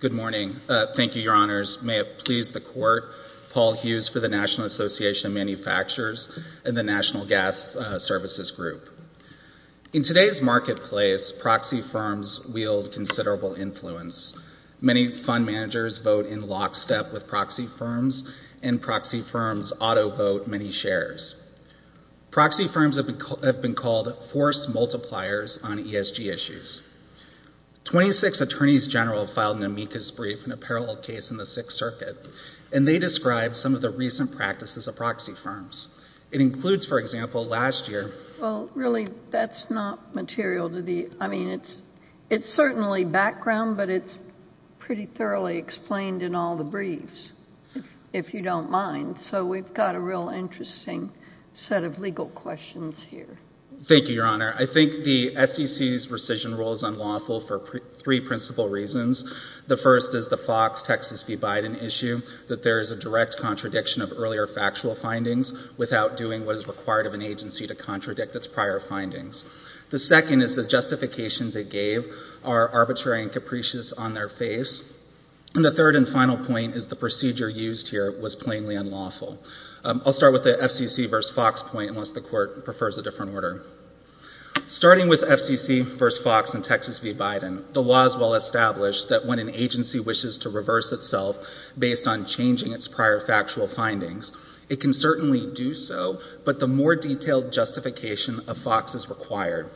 Good morning. Thank you, Your Honors. May it please the Court, Paul Hughes for the National Association of Manufacturers and the National Gas Services Group. In today's marketplace, proxy firms wield considerable influence. Many fund managers vote in lockstep with proxy firms, and proxy firms auto-vote many shares. Proxy firms have been called force multipliers on ESG issues. Twenty-six Attorneys General filed an amicus brief in a parallel case in the Sixth Circuit, and they described some of the recent practices of proxy firms. It includes, for example, last year... Well, really, that's not material to the... I mean, it's certainly background, but it's pretty thoroughly explained in all the briefs, if you don't mind. So we've got a real interesting set of legal questions here. Thank you, Your Honor. I think the SEC's rescission rule is unlawful for three principal reasons. The first is the Fox-Texas v. Biden issue, that there is a direct contradiction of earlier factual findings without doing what is required of an agency to contradict its prior findings. The second is the justifications it gave are arbitrary and capricious on their face. And the third and final point is the procedure used here was plainly unlawful. I'll start with the FCC v. Fox point, unless the Court prefers a different order. Starting with FCC v. Fox and Texas v. Biden, the law is well established that when an agency wishes to reverse itself based on changing its prior factual findings, it can certainly do so, but the more detailed justification of Fox is required.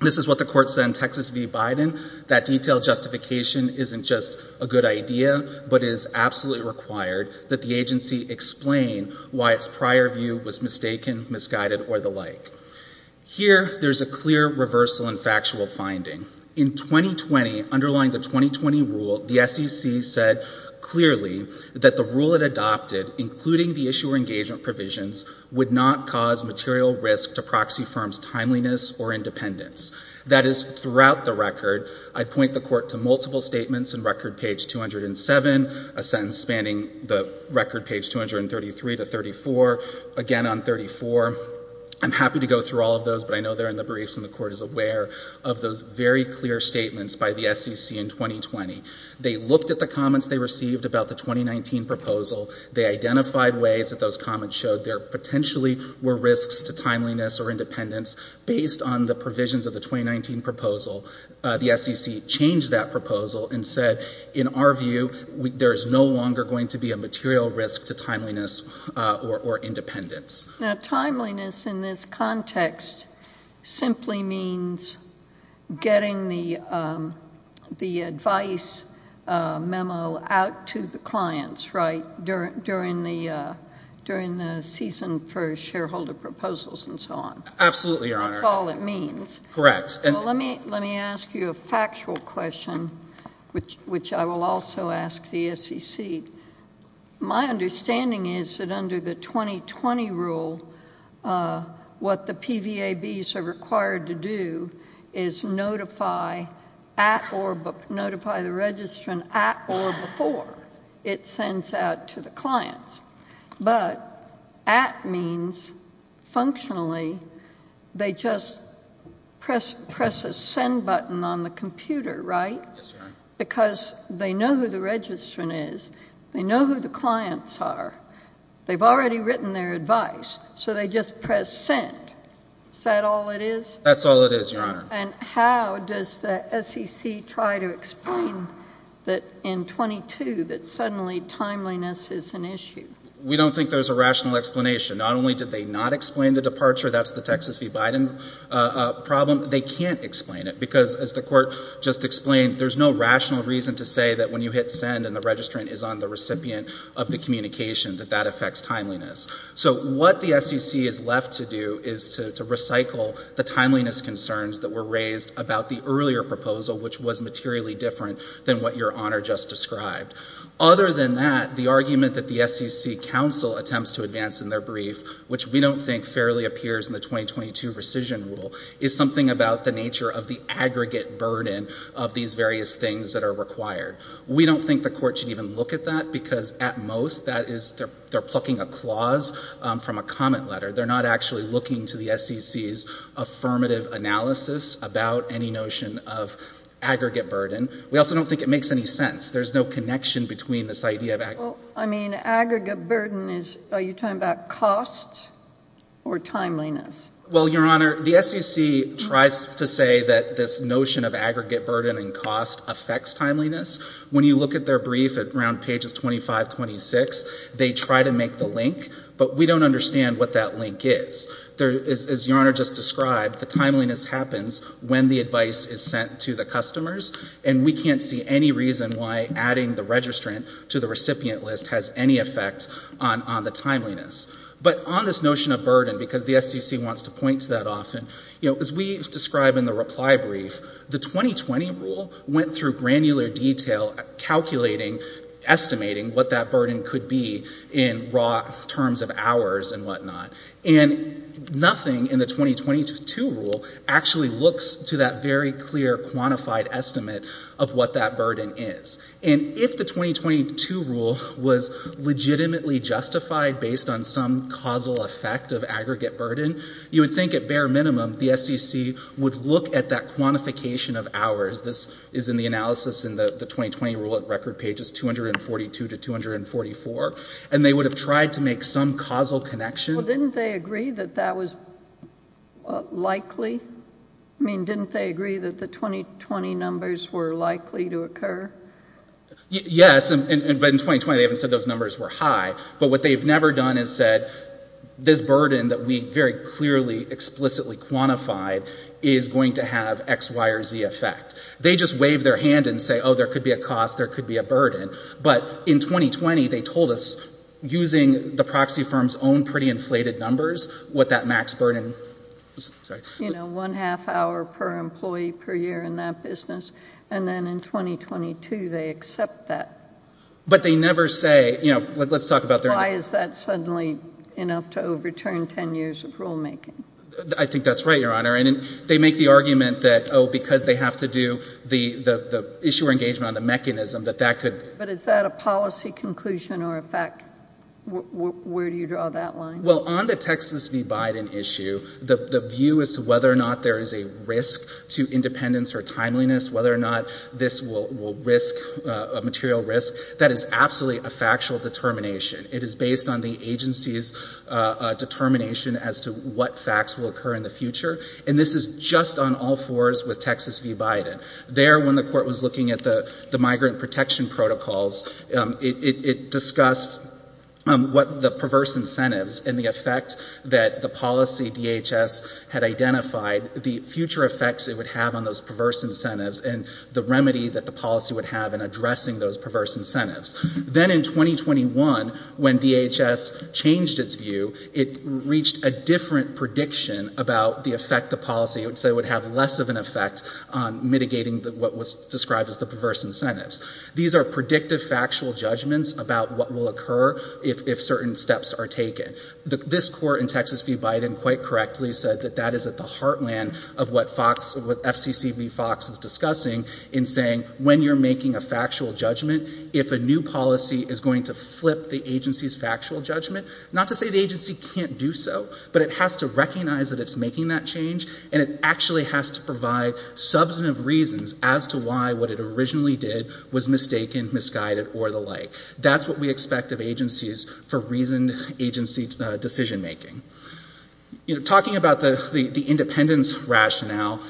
This is what the Court said in Texas v. Biden, that detailed justification isn't just a good idea, but is absolutely required that the agency explain why its prior view was mistaken, misguided, or the like. Here, there's a clear reversal in factual finding. In 2020, underlying the 2020 rule, the SEC said clearly that the rule it adopted, including the issuer engagement provisions, would not cause material risk to proxy firms' timeliness or independence. That is, throughout the record, I point the Court to multiple statements in record page 207, a sentence spanning the record page 233 to 34, again on 34. I'm happy to go through all of those, but I know they're in the briefs and the Court is aware of those very clear statements by the SEC in 2020. They looked at the comments they received about the 2019 proposal. They identified ways that those comments showed there potentially were risks to timeliness or independence. Based on the provisions of the 2019 proposal, the SEC changed that proposal and said, in our view, there is no longer going to be a material risk to timeliness or independence. Now, timeliness in this context simply means getting the advice memo out to the clients, right, during the Season 1 shareholder proposals and so on. Absolutely, Your Honor. That's all it means. Correct. Well, let me ask you a factual question, which I will also ask the SEC. My understanding is that under the 2020 rule, what the PVABs are required to do is notify the registrant at or before it sends out to the clients. But at means, functionally, they just press a send button on the computer, right? Yes, Your Honor. Because they know who the registrant is. They know who the clients are. They've already written their advice, so they just press send. Is that all it is? That's all it is, Your Honor. And how does the SEC try to explain that in 22, that suddenly timeliness is an issue? We don't think there's a rational explanation. Not only did they not explain the departure, that's the Texas v. Biden problem, they can't explain it because, as the Court just explained, there's no rational reason to say that when you hit send and the registrant is on the recipient of the communication, that that affects timeliness. So what the SEC is left to do is to recycle the timeliness concerns that were raised about the earlier proposal, which was materially different than what Your Honor just described. Other than that, the argument that the SEC counsel attempts to advance in their brief, which we don't think fairly appears in the 2022 rescission rule, is something about the nature of the aggregate burden of these various things that are required. We don't think the Court should even look at that because, at most, they're plucking a clause from a comment letter. They're not actually looking to the SEC's affirmative analysis about any notion of aggregate burden. We also don't think it makes any sense. There's no connection between this idea of aggregate burden. I mean, aggregate burden is, are you talking about cost or timeliness? Well, Your Honor, the SEC tries to say that this notion of aggregate burden and cost affects timeliness. When you look at their brief at around pages 25, 26, they try to make the link, but we don't understand what that link is. As Your Honor just described, the timeliness happens when the advice is sent to the customers, and we can't see any reason why adding the registrant to the recipient list has any effect on the timeliness. But on this notion of burden, because the SEC wants to point to that often, you know, as we describe in the reply brief, the 2020 rule went through granular detail calculating, estimating what that burden could be in raw terms of hours and whatnot. And nothing in the 2022 rule actually looks to that very clear, quantified estimate of what that burden is. And if the 2022 rule was legitimately justified based on some causal effect of aggregate burden, you would think at bare minimum the SEC would look at that quantification of hours. This is in the analysis in the 2020 rule at record pages 242 to 244. And they would have tried to make some causal connection. Well, didn't they agree that that was likely? I mean, didn't they agree that the 2020 numbers were likely to occur? Yes, but in 2020 they haven't said those numbers were high. But what they've never done is said, this burden that we very clearly, explicitly quantified is going to have X, Y, or Z effect. They just waved their hand and say, oh, there could be a cost, there could be a burden. But in 2020, they told us using the proxy firm's own pretty inflated numbers, what that max burden, I'm sorry. You know, one half hour per employee per year in that business. And then in 2022, they accept that. But they never say, you know, let's talk about their— Enough to overturn 10 years of rulemaking. I think that's right, Your Honor. And they make the argument that, oh, because they have to do the issuer engagement on the mechanism, that that could— But is that a policy conclusion or a fact? Where do you draw that line? Well, on the Texas v. Biden issue, the view as to whether or not there is a risk to independence or timeliness, whether or not this will risk a material risk, that is absolutely a factual determination. It is based on the agency's determination as to what facts will occur in the future. And this is just on all fours with Texas v. Biden. There, when the court was looking at the migrant protection protocols, it discussed what the perverse incentives and the effect that the policy DHS had identified, the future effects it would have on those perverse incentives, and the remedy that the policy would have in addressing those perverse incentives. Then in 2021, when DHS changed its view, it reached a different prediction about the effect the policy would say would have less of an effect on mitigating what was described as the perverse incentives. These are predictive factual judgments about what will occur if certain steps are taken. This court in Texas v. Biden quite correctly said that that is at the heartland of what FOX, what FCC v. FOX is discussing in saying, when you're making a factual judgment, if a new policy is going to flip the agency's factual judgment, not to say the agency can't do so, but it has to recognize that it's making that change, and it actually has to provide substantive reasons as to why what it originally did was mistaken, misguided, or the like. That's what we expect of agencies for reasoned agency decision making. Talking about the independence rationale,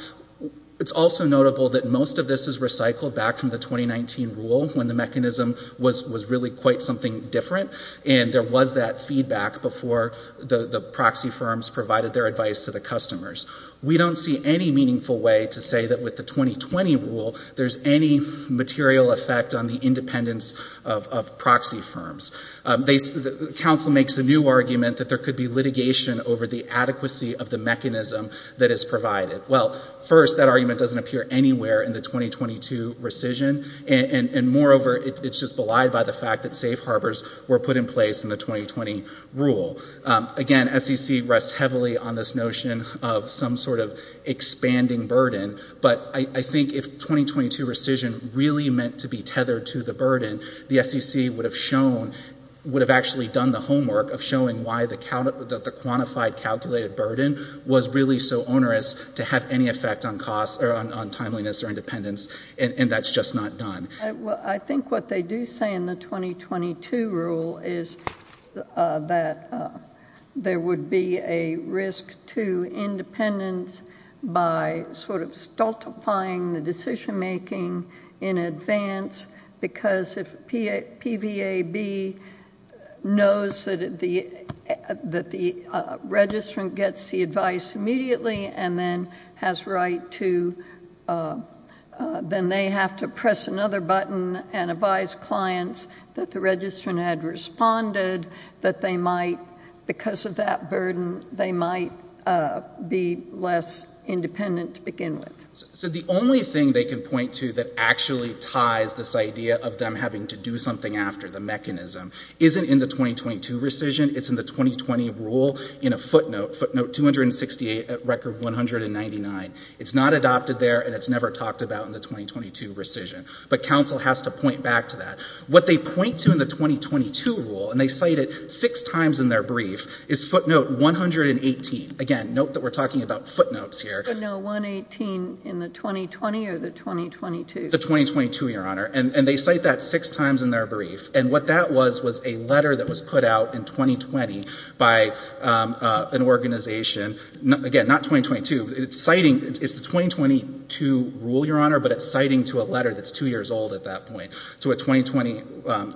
it's also notable that most of this is recycled back from the 2019 rule when the mechanism was really quite something different, and there was that feedback before the proxy firms provided their advice to the customers. We don't see any meaningful way to say that with the 2020 rule, there's any material effect on the independence of proxy firms. The counsel makes a new argument that there could be litigation over the adequacy of the mechanism that is provided. Well, first, that argument doesn't appear anywhere in the 2022 rescission, and moreover, it's just belied by the fact that safe harbors were put in place in the 2020 rule. Again, FCC rests heavily on this notion of some sort of expanding burden, but I think if 2022 rescission really meant to be tethered to the burden, the FCC would have shown, would have actually done the homework of showing why the quantified calculated burden was really so onerous to have any effect on costs or on timeliness or independence, and that's just not done. I think what they do say in the 2022 rule is that there would be a risk to independence by sort of stultifying the decision making in advance because if PVAB knows that the registrant gets the advice immediately and then has right to, then they have to press another button and advise clients that the registrant had responded, that they might, because of that burden, they might be less independent to begin with. So the only thing they can point to that actually ties this idea of them having to do something after, the mechanism, isn't in the 2022 rescission, it's in the 2020 rule in a footnote, footnote 268 at record 199. It's not adopted there and it's never talked about in the 2022 rescission, but counsel has to point back to that. What they point to in the 2022 rule, and they cite it six times in their brief, is footnote 118. Again, note that we're talking about footnotes here. But no, 118 in the 2020 or the 2022? The 2022, Your Honor. And they cite that six times in their brief. And what that was, was a letter that was put out in 2020 by an organization, again, not 2022, it's the 2022 rule, Your Honor, but it's citing to a letter that's two years old at that point. So a 2020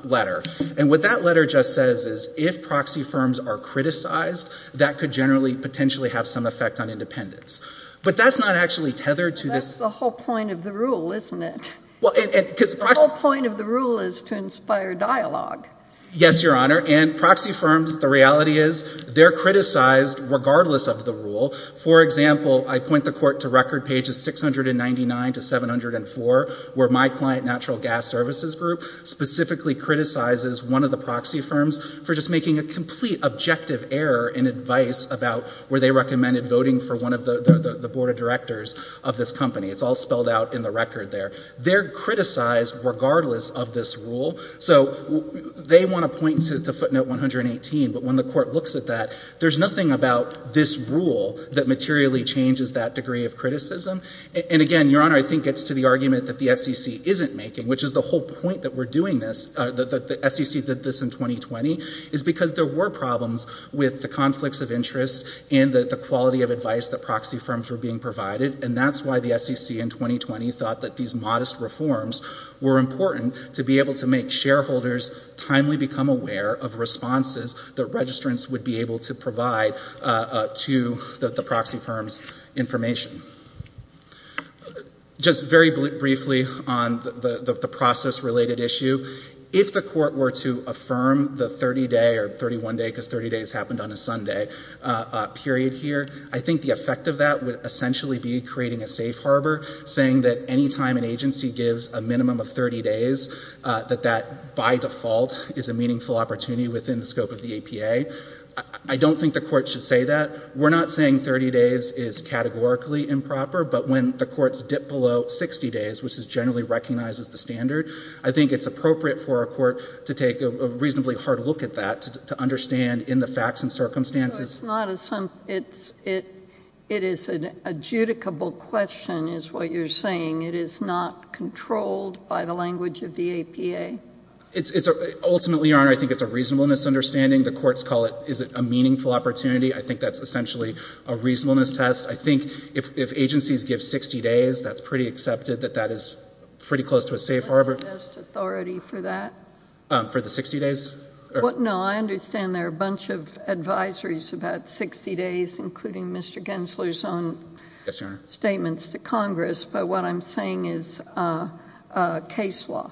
letter. And what that letter just says is if proxy firms are criticized, that could generally potentially have some effect on independence. But that's not actually tethered to this. That's the whole point of the rule, isn't it? The whole point of the rule is to inspire dialogue. Yes, Your Honor. And proxy firms, the reality is they're criticized regardless of the rule. For example, I point the court to record pages 699 to 704, where my client, Natural Gas Services Group, specifically criticizes one of the proxy firms for just making a complete objective error in advice about where they recommended voting for one of the board of directors of this company. It's all spelled out in the record there. They're criticized regardless of this rule. So they want to point to footnote 118. But when the court looks at that, there's nothing about this rule that materially changes that degree of criticism. And again, Your Honor, I think it's to the argument that the SEC isn't making, which is the whole point that we're doing this, that the SEC did this in 2020, is because there were problems with the conflicts of interest and the quality of advice that proxy firms were being provided. And that's why the SEC in 2020 thought that these modest reforms were important to be able to make shareholders timely become aware of responses that registrants would be able to provide to the proxy firm's information. Just very briefly on the process-related issue, if the court were to affirm the 30-day or 31-day, because 30 days happened on a Sunday, period here, I think the effect of that would essentially be creating a safe harbor, saying that any time an agency gives a minimum of 30 days, that that, by default, is a meaningful opportunity within the scope of the APA. I don't think the court should say that. We're not saying 30 days is categorically improper. But when the courts dip below 60 days, which is generally recognized as the standard, I think it's appropriate for a court to take a reasonably hard look at that to understand in the facts and circumstances. So it's not a — it is an adjudicable question, is what you're saying. It is not controlled by the language of the APA? It's — ultimately, Your Honor, I think it's a reasonableness understanding. The courts call it — is it a meaningful opportunity? I think that's essentially a reasonableness test. I think if agencies give 60 days, that's pretty accepted, that that is pretty close to a safe harbor. Is there a test authority for that? For the 60 days? No. I understand there are a bunch of advisories about 60 days, including Mr. Gensler's own — Yes, Your Honor. — statements to Congress. But what I'm saying is a case law.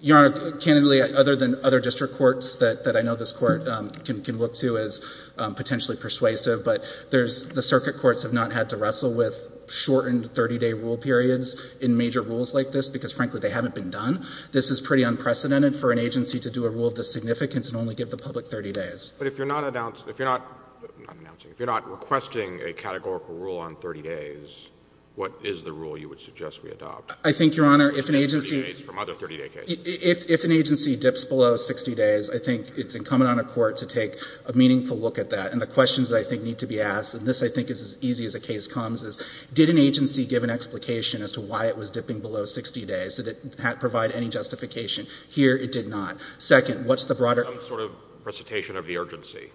Your Honor, candidly, other than other district courts that I know this Court can look to as potentially persuasive, but there's — the circuit courts have not had to wrestle with shortened 30-day rule periods in major rules like this because, frankly, they haven't been done. This is pretty unprecedented for an agency to do a rule of this significance and only give the public 30 days. But if you're not — if you're not — I'm not announcing — if you're not requesting a categorical rule on 30 days, what is the rule you would suggest we adopt? I think, Your Honor, if an agency — From other 30-day cases. If an agency dips below 60 days, I think it's incumbent on a court to take a meaningful look at that. And the questions that I think need to be asked, and this I think is as easy as a case comes, is did an agency give an explication as to why it was dipping below 60 days? Did it provide any justification? Here, it did not. Second, what's the broader — Some sort of recitation of the urgency.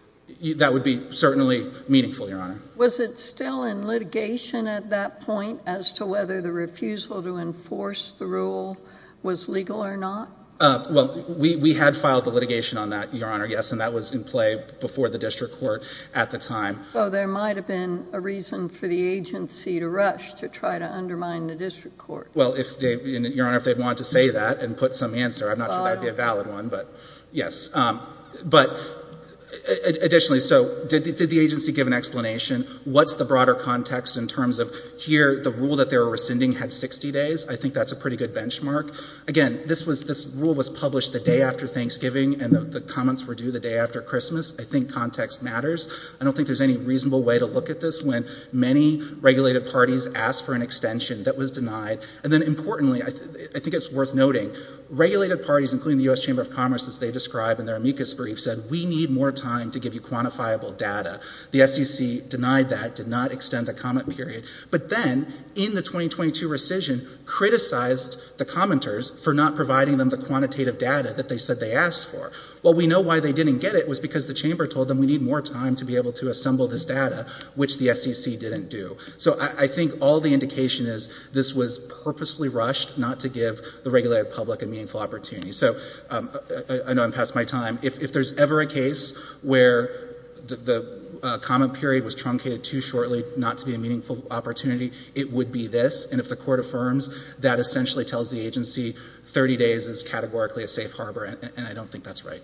That would be certainly meaningful, Your Honor. Was it still in litigation at that point as to whether the refusal to enforce the rule was legal or not? Well, we had filed the litigation on that, Your Honor, yes, and that was in play before the district court at the time. So there might have been a reason for the agency to rush to try to undermine the district court. Well, if they — Your Honor, if they'd want to say that and put some answer, I'm not sure that would be a valid one, but yes. But additionally, so did the agency give an explanation? What's the broader context in terms of here, the rule that they were rescinding had 60 days? I think that's a pretty good benchmark. Again, this rule was published the day after Thanksgiving, and the comments were due the day after Christmas. I think context matters. I don't think there's any reasonable way to look at this when many regulated parties asked for an extension that was denied, and then importantly, I think it's worth noting, regulated parties, including the U.S. Chamber of Commerce, as they describe in their amicus brief, said we need more time to give you quantifiable data. The SEC denied that, did not extend the comment period, but then in the 2022 rescission, criticized the commenters for not providing them the quantitative data that they said they asked for. Well, we know why they didn't get it was because the chamber told them we need more time to be able to assemble this data, which the SEC didn't do. So I think all the indication is this was purposely rushed not to give the regulated public a meaningful opportunity. So I know I'm past my time. If there's ever a case where the comment period was truncated too shortly not to be a meaningful opportunity, it would be this, and if the court affirms, that essentially tells the agency 30 days is categorically a safe harbor, and I don't think that's right.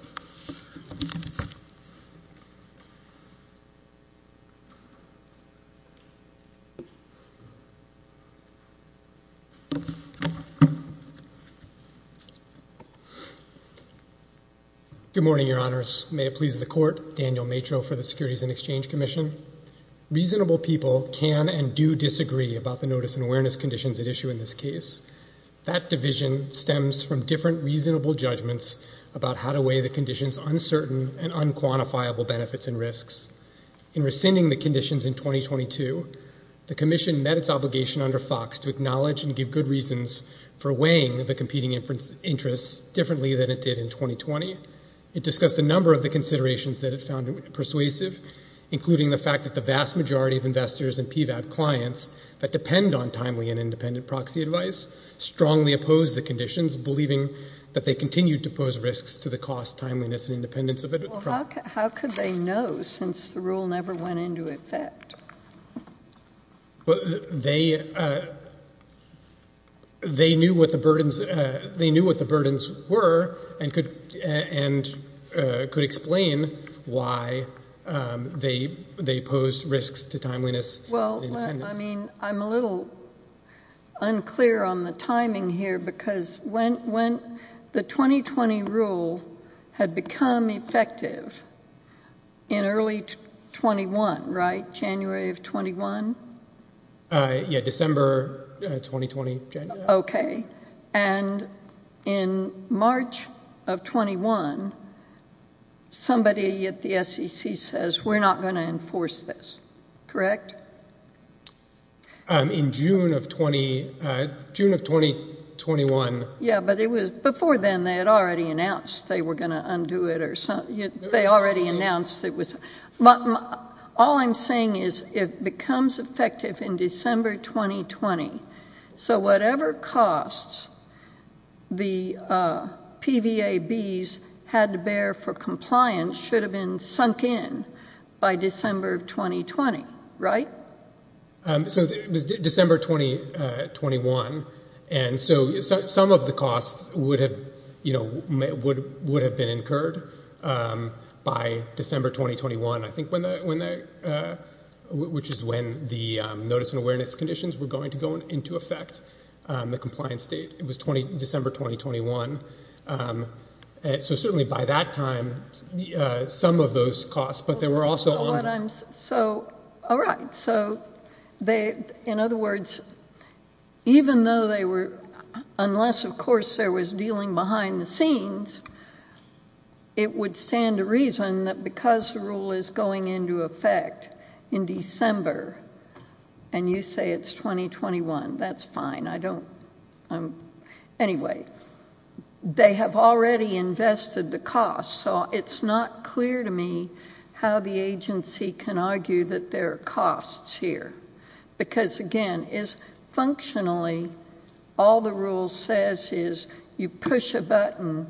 Good morning, your honors. May it please the court, Daniel Matro for the Securities and Exchange Commission. Reasonable people can and do disagree about the notice and awareness conditions at issue in this case. That division stems from different reasonable judgments about how to weigh the conditions uncertain and unquantifiable benefits and risks. In rescinding the conditions in 2022, the commission met its obligation under Fox to acknowledge and give good reasons for weighing the competing interests differently than it did in 2020. It discussed a number of the considerations that it found persuasive, including the fact that the vast majority of investors and PVAP clients that depend on timely and independent proxy advice strongly opposed the conditions, believing that they continued to pose risks to the cost, timeliness, and independence of it. How could they know, since the rule never went into effect? They knew what the burdens were and could explain why they posed risks to timeliness and independence. Well, I mean, I'm a little unclear on the timing here, because when the 2020 rule had become effective in early 21, right, January of 21? Yeah, December 2020. Okay. And in March of 21, somebody at the SEC says, we're not going to enforce this. Correct? In June of 20, June of 2021. Yeah, but it was, before then they had already announced they were going to undo it or something. They already announced it was, all I'm saying is it becomes effective in December 2020. So whatever costs the PVABs had to bear for compliance should have been sunk in by December of 2020, right? So it was December 2021, and so some of the costs would have been incurred by December 2021, I think, which is when the notice and awareness conditions were going to go into effect, the compliance date. It was December 2021. So certainly by that time, some of those costs, but they were also on. So, all right. So they, in other words, even though they were, unless of course there was dealing behind the scenes, it would stand to reason that because the rule is going into effect in December and you say it's 2021, that's fine. I don't, anyway, they have already invested the costs. So it's not clear to me how the agency can argue that there are costs here. Because again, functionally, all the rule says is you push a button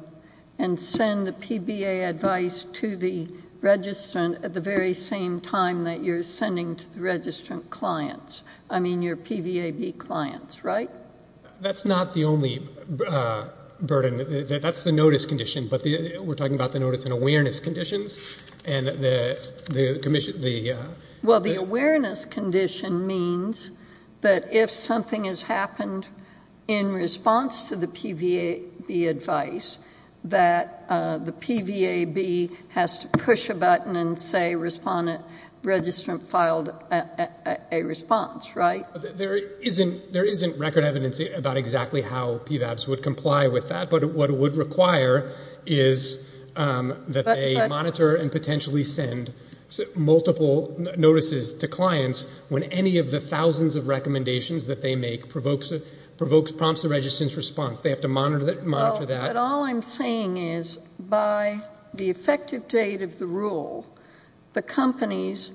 and send the PBA advice to the registrant at the very same time that you're sending to the registrant clients. I mean, your PVAB clients, right? That's not the only burden. That's the notice condition, but we're talking about the notice and awareness conditions and the commission. Well, the awareness condition means that if something has happened in response to the There isn't record evidence about exactly how PVABs would comply with that, but what it would require is that they monitor and potentially send multiple notices to clients when any of the thousands of recommendations that they make provokes, prompts the registrant's response. They have to monitor that. Well, but all I'm saying is by the effective date of the rule, the companies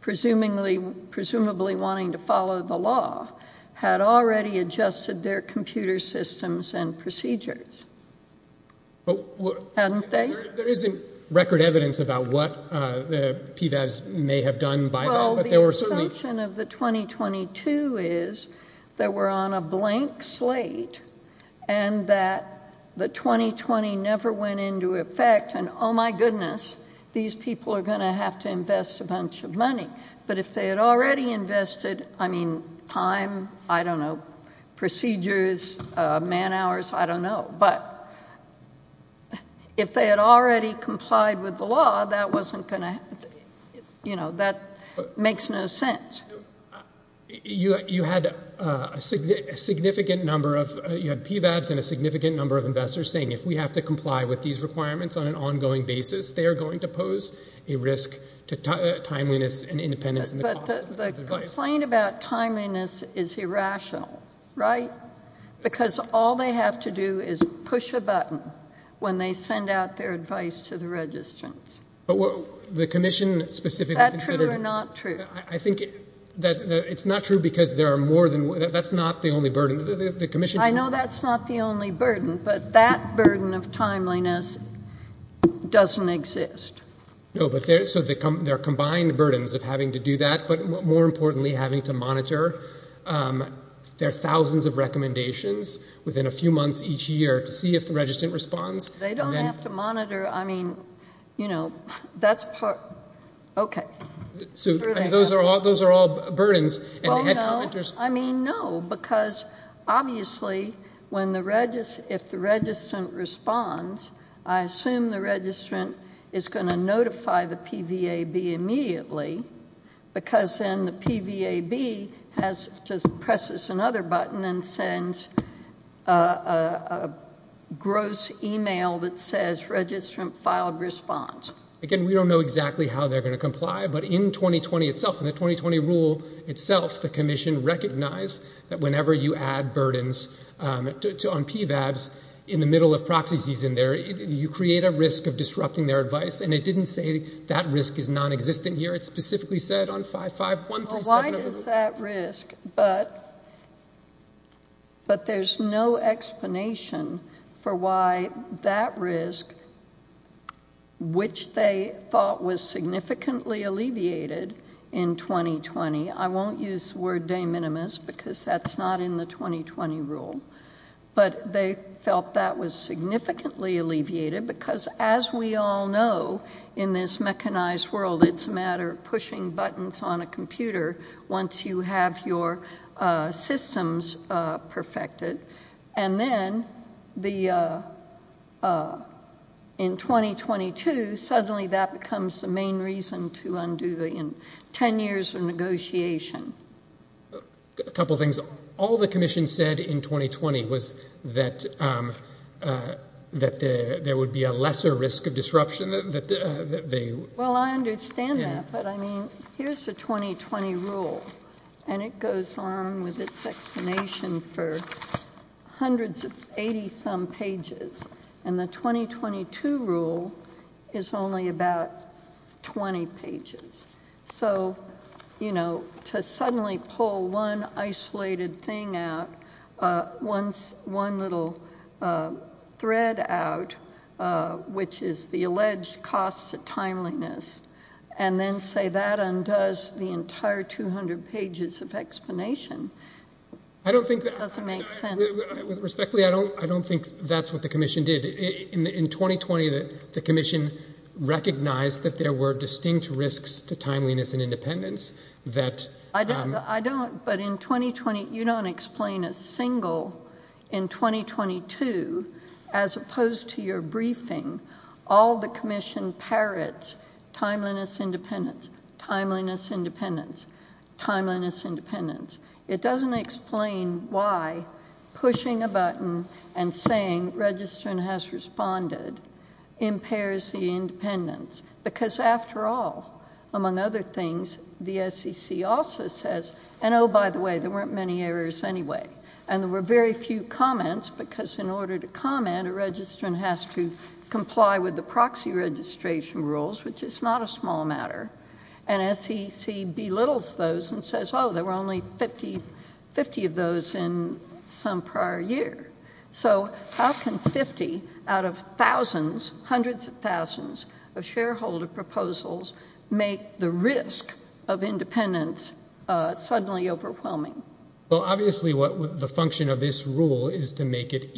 presumably wanting to follow the law had already adjusted their computer systems and procedures. Hadn't they? There isn't record evidence about what the PVABs may have done by now, but there were certainly... Well, the assumption of the 2022 is that we're on a blank slate and that the 2020 never went into effect, and oh my goodness, these people are going to have to invest a bunch of money. But if they had already invested, I mean, time, I don't know, procedures, man hours, I don't know. But if they had already complied with the law, that wasn't going to... That makes no sense. You had a significant number of... You had PVABs and a significant number of investors saying, if we have to comply with on an ongoing basis, they are going to pose a risk to timeliness and independence in the cost of advice. But the complaint about timeliness is irrational, right? Because all they have to do is push a button when they send out their advice to the registrants. But the commission specifically considered... Is that true or not true? I think that it's not true because there are more than... That's not the only burden. The commission... I know that's not the only burden, but that burden of timeliness doesn't exist. No, but there are combined burdens of having to do that, but more importantly, having to monitor. There are thousands of recommendations within a few months each year to see if the registrant responds. They don't have to monitor. I mean, you know, that's part... Okay. So those are all burdens. Oh, no. I mean, no, because obviously, if the registrant responds, I assume the registrant is going to notify the PVAB immediately because then the PVAB has to press another button and send a gross email that says, registrant filed response. Again, we don't know exactly how they're going to comply, but in 2020 itself, in the 2020 rule itself, the commission recognized that whenever you add burdens on PVABs in the middle of proxy season there, you create a risk of disrupting their advice, and it didn't say that risk is nonexistent here. It specifically said on 55137... Well, why does that risk? But there's no explanation for why that risk, which they thought was significantly alleviated in 2020... I won't use the word de minimis because that's not in the 2020 rule, but they felt that was significantly alleviated because, as we all know, in this mechanized world, it's a matter of pushing buttons on a computer once you have your systems perfected. And then in 2022, suddenly that becomes the main reason to undo the 10 years of negotiation. A couple of things. All the commission said in 2020 was that there would be a lesser risk of disruption that they... Well, I understand that, but I mean, here's the 2020 rule, and it goes on with its explanation for hundreds of 80-some pages, and the 2022 rule is only about 20 pages. So, you know, to suddenly pull one isolated thing out, one little thread out, which is the alleged cost of timeliness, and then say that undoes the entire 200 pages of explanation... I don't think... It doesn't make sense. Respectfully, I don't think that's what the commission did. In 2020, the commission recognized that there were distinct risks to timeliness and independence that... But in 2020, you don't explain a single... In 2022, as opposed to your briefing, all the commission parrots timeliness, independence, timeliness, independence, timeliness, independence. It doesn't explain why pushing a button and saying, register and has responded, impairs the independence, because after all, among other things, the SEC also says, and oh, by the way, there weren't many errors anyway, and there were very few comments, because in order to comment, a registrant has to comply with the proxy registration rules, which is not a small matter, and SEC belittles those and says, oh, there were only 50 of those in some prior year. So, how can 50 out of thousands, hundreds of thousands, of shareholder proposals make the risk of independence suddenly overwhelming? Well, obviously, the function of this rule is to make it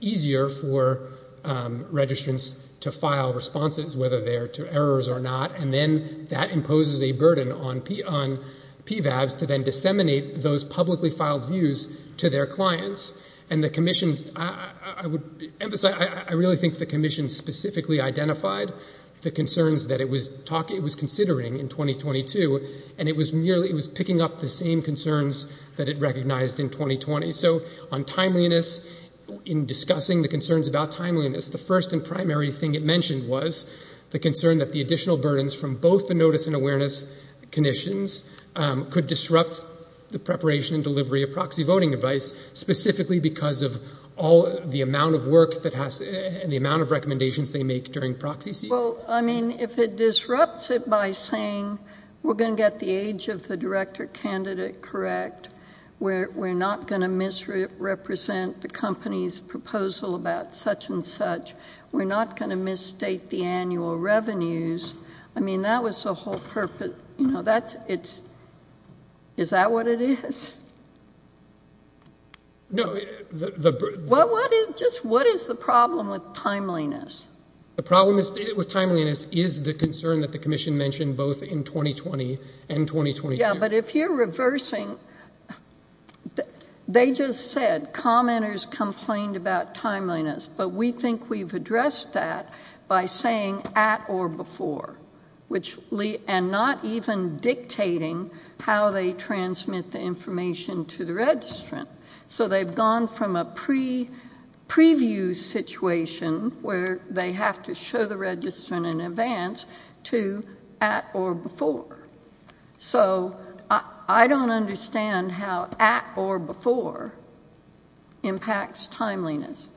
easier for registrants to file responses, whether they're to errors or not, and then that imposes a burden on PVABs to then disseminate those publicly filed views to their clients, and the commission, I would emphasize, I really think the commission specifically identified the concerns that it was considering in 2022, and it was merely, it was picking up the same concerns that it recognized in 2020. So, on timeliness, in discussing the concerns about timeliness, the first and primary thing it mentioned was the concern that the additional burdens from both the notice and awareness commissions could disrupt the preparation and delivery of proxy voting advice, specifically because of all the amount of work that has, and the amount of recommendations they make during proxy season. Well, I mean, if it disrupts it by saying, we're going to get the age of the director candidate correct, we're not going to misrepresent the company's proposal about such and such, we're not going to misstate the annual revenues, I mean, that was the whole purpose, you know, that's, it's, is that what it is? No, the... Well, what is, just what is the problem with timeliness? The problem with timeliness is the concern that the commission mentioned both in 2020 and 2022. Yeah, but if you're reversing, they just said, commenters complained about timeliness, but we think we've addressed that by saying at or before, which, and not even dictating how they transmit the information to the registrant, so they've gone from a pre, preview situation where they have to show the registrant in advance to at or before, so I don't understand how at or before impacts timeliness.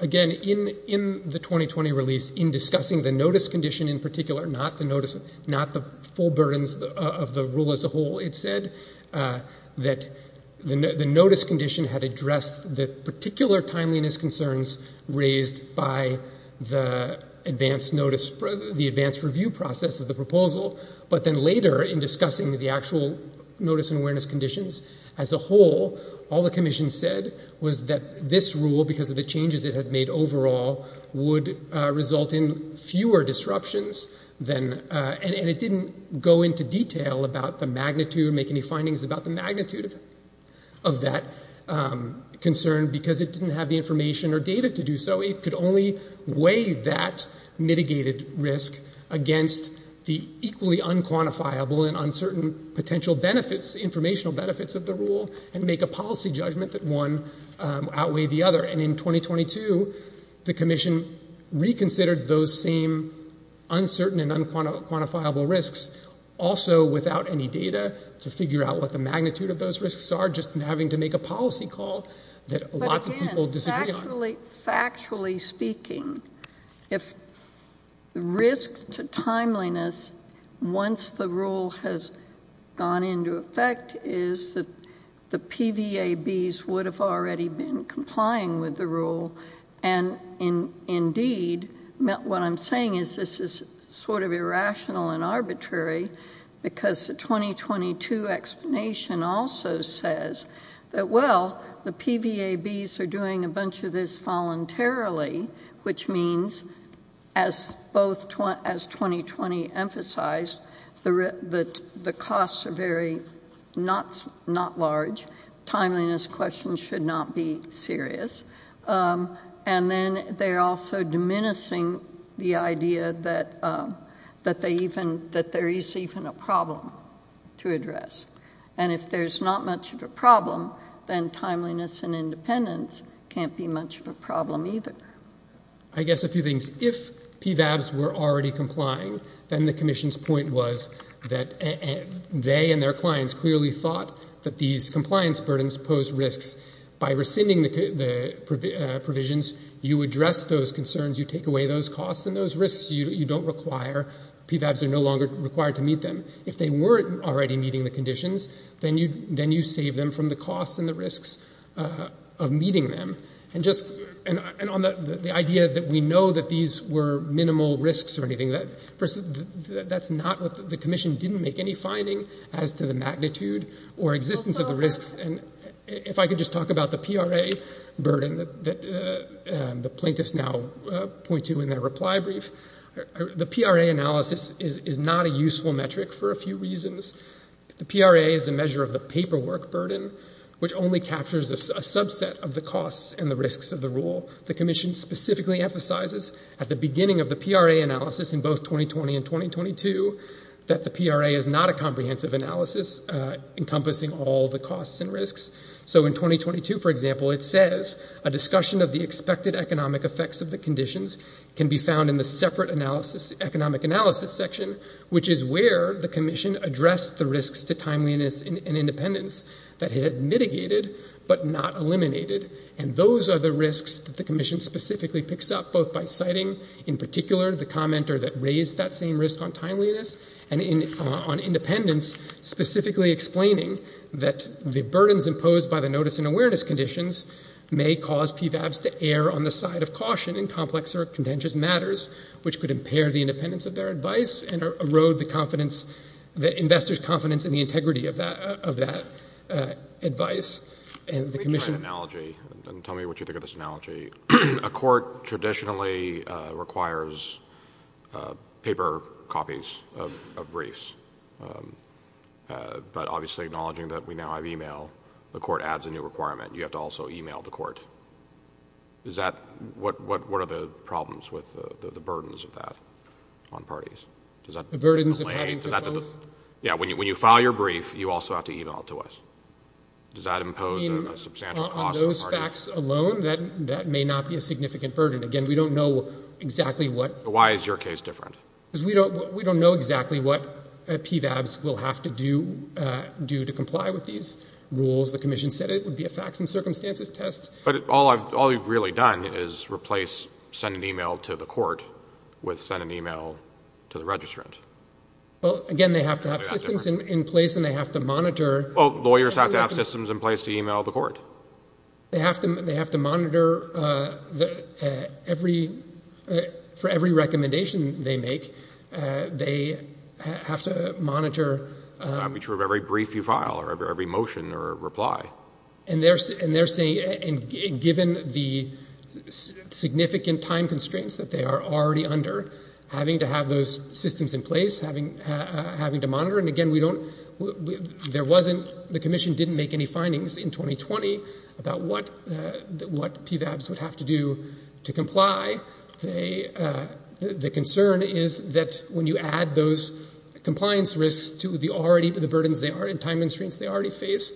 Again, in, in the 2020 release, in discussing the notice condition in particular, not the notice, not the full burdens of the rule as a whole, it said that the notice condition had addressed the particular timeliness concerns raised by the advance notice, the advance review process of the proposal, but then later in discussing the actual notice and awareness conditions as a whole, all the commission said was that this rule, because of the changes it had made overall, would result in fewer disruptions than, and it didn't go into detail about the magnitude, make any findings about the magnitude of that concern, because it didn't have the information or data to do so. It could only weigh that mitigated risk against the equally unquantifiable and uncertain potential benefits, informational benefits of the rule, and make a policy judgment that one outweighed the other, and in 2022, the commission reconsidered those same uncertain and unquantifiable risks, also without any data to figure out what the magnitude of those risks are, just having to make a policy call that lots of people disagree on. Factually speaking, if risk to timeliness, once the rule has gone into effect, is that the PVABs would have already been complying with the rule, and indeed, what I'm saying is this is sort of irrational and arbitrary, because the 2022 explanation also says that, well, the PVABs are doing a bunch of this voluntarily, which means, as 2020 emphasized, that the costs are very not large, timeliness questions should not be serious, and then they're also diminishing the idea that there is even a problem to address, and if there's not much of a problem, then timeliness and independence can't be much of a problem either. I guess a few things. If PVABs were already complying, then the commission's point was that they and their clients clearly thought that these compliance burdens posed risks. By rescinding the provisions, you address those concerns, you take away those costs and those risks, you don't require, PVABs are no longer required to meet them. If they weren't already meeting the conditions, then you save them from the costs and the risks of meeting them, and on the idea that we know that these were minimal risks or anything, that's not what the commission didn't make any finding as to the magnitude or existence of the risks, and if I could just talk about the PRA burden that the plaintiffs now point to in their reply brief, the PRA analysis is not a useful metric for a few reasons. The PRA is a measure of the paperwork burden, which only captures a subset of the costs and the risks of the rule. The commission specifically emphasizes at the beginning of the PRA analysis in both 2020 and 2022 that the PRA is not a comprehensive analysis encompassing all the costs and risks. So in 2022, for example, it says, a discussion of the expected economic effects of the conditions can be found in the separate economic analysis section, which is where the commission addressed the risks to timeliness and independence that it had mitigated but not eliminated, and those are the risks that the commission specifically picks up, both by citing in particular the commenter that raised that same risk on timeliness and on independence, specifically explaining that the burdens imposed by the notice and awareness conditions may cause PVABs to err on the side of caution in complex or contentious matters, which could impair the independence of their advice and erode the confidence, the investor's confidence in the integrity of that advice, and the commission... Let me try an analogy, and tell me what you think of this analogy. A court traditionally requires paper copies of briefs, but obviously acknowledging that we now have e-mail, the court adds a new requirement. You have to also e-mail the court. Is that... What are the problems with the burdens of that on parties? Does that... The burdens of having to... Yeah, when you file your brief, you also have to e-mail it to us. Does that impose a substantial cost to the parties? When you file a fax alone, that may not be a significant burden. Again, we don't know exactly what... Why is your case different? Because we don't know exactly what PVABs will have to do to comply with these rules. The commission said it would be a facts and circumstances test. But all you've really done is replace send an e-mail to the court with send an e-mail to the registrant. Well, again, they have to have systems in place, and they have to monitor... Lawyers have to have systems in place to e-mail the court. They have to monitor every... For every recommendation they make, they have to monitor... That would be true of every brief you file or every motion or reply. And they're saying... And given the significant time constraints that they are already under, having to have those systems in place, having to monitor... And again, we don't... There was... The commission didn't make any findings in 2020 about what PVABs would have to do to comply. The concern is that when you add those compliance risks to the already... The burdens they are and time constraints they already face,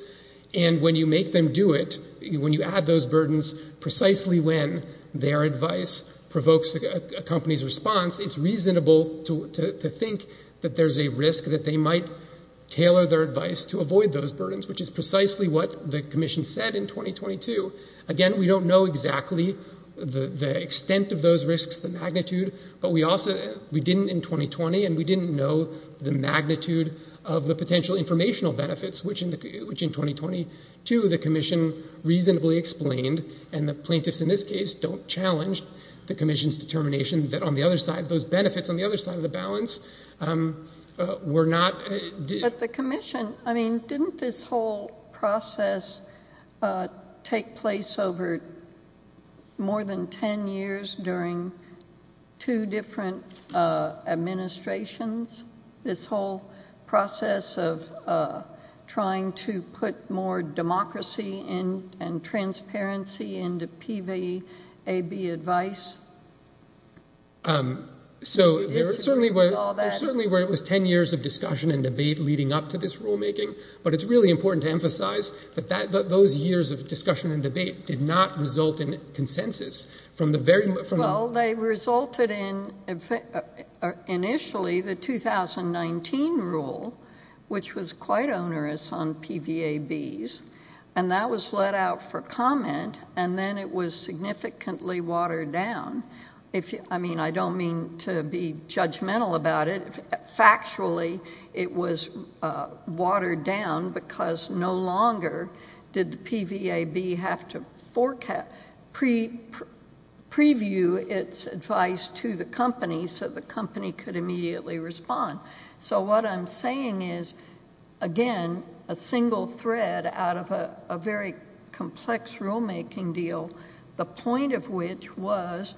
and when you make them do it, when you add those burdens, precisely when their advice provokes a company's response, it's reasonable to think that there's a risk that they might tailor their advice to avoid those burdens, which is precisely what the commission said in 2022. Again, we don't know exactly the extent of those risks, the magnitude, but we also... We didn't in 2020, and we didn't know the magnitude of the potential informational benefits, which in 2022 the commission reasonably explained, and the plaintiffs in this case don't challenge the commission's determination that on the other side, those benefits on the other side of the balance were not... But the commission... I mean, didn't this whole process take place over more than 10 years during two different administrations? This whole process of trying to put more democracy and transparency into PVAB advice? So, there certainly were... All that... There certainly were 10 years of discussion and debate leading up to this rulemaking, but it's really important to emphasize that those years of discussion and debate did not result in consensus. Well, they resulted in, initially, the 2019 rule, which was quite onerous on PVABs, and that was let out for comment, and then it was significantly watered down. I mean, I don't mean to be judgmental about it. Factually, it was watered down because no longer did the PVAB have to preview its advice to the company so the company could immediately respond. So, what I'm saying is, again, a single thread out of a very complex rulemaking deal, the point of which was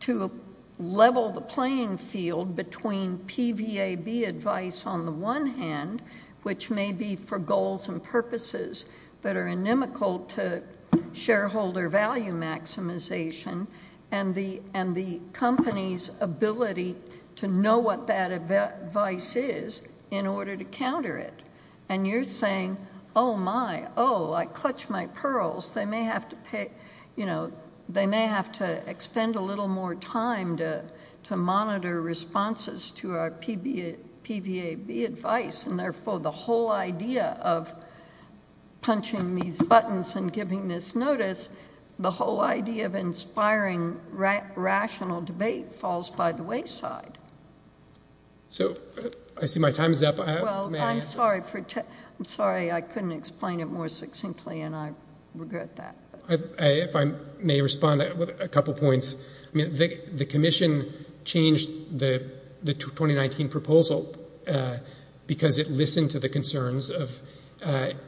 to level the playing field between PVAB advice on the one hand, which may be for goals and purposes that are inimical to shareholder value maximization, and the company's ability to know what that advice is in order to counter it. And you're saying, oh, my, oh, I clutched my pearls. They may have to pay... You know, they may have to expend a little more time to monitor responses to our PVAB advice, and therefore, the whole idea of punching these buttons and giving this notice, the whole idea of So, I see my time is up. Well, I'm sorry. I'm sorry I couldn't explain it more succinctly, and I regret that. If I may respond with a couple points. I mean, the commission changed the 2019 proposal because it listened to the concerns of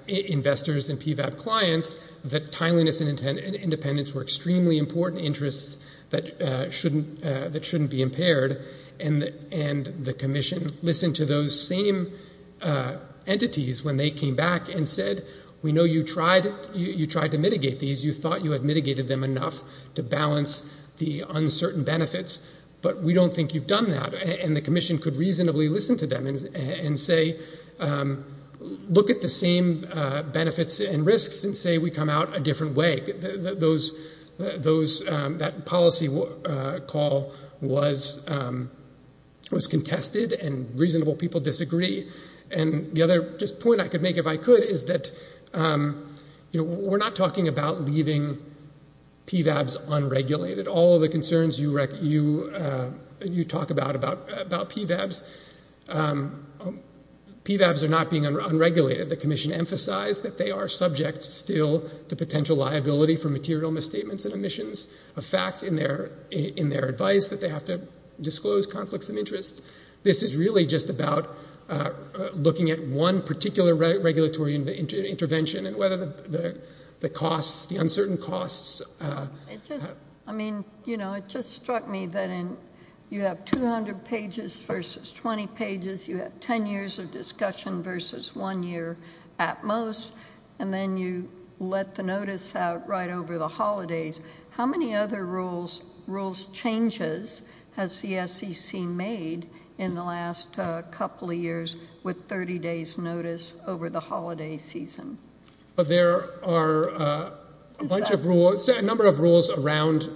investors and PVAB clients that timeliness and independence were extremely important interests that shouldn't be impaired, and the commission listened to those same entities when they came back and said, we know you tried to mitigate these. You thought you had mitigated them enough to balance the uncertain benefits, but we don't think you've done that. And the commission could reasonably listen to them and say, look at the same benefits and risks and say we come out a different way. That policy call was contested, and reasonable people disagree. And the other point I could make, if I could, is that we're not talking about leaving PVABs unregulated. All of the concerns you talk about about PVABs, PVABs are not being unregulated. The commission emphasized that they are subject still to potential liability for material misstatements and omissions. A fact in their advice that they have to disclose conflicts of interest. This is really just about looking at one particular regulatory intervention and whether the costs, the uncertain costs. I mean, you know, it just struck me that you have 200 pages versus 20 pages. You have 10 years of discussion versus one year at most. And then you let the notice out right over the holidays. How many other rules changes has the SEC made in the last couple of years with 30 days notice over the holiday season? There are a bunch of rules, a number of rules around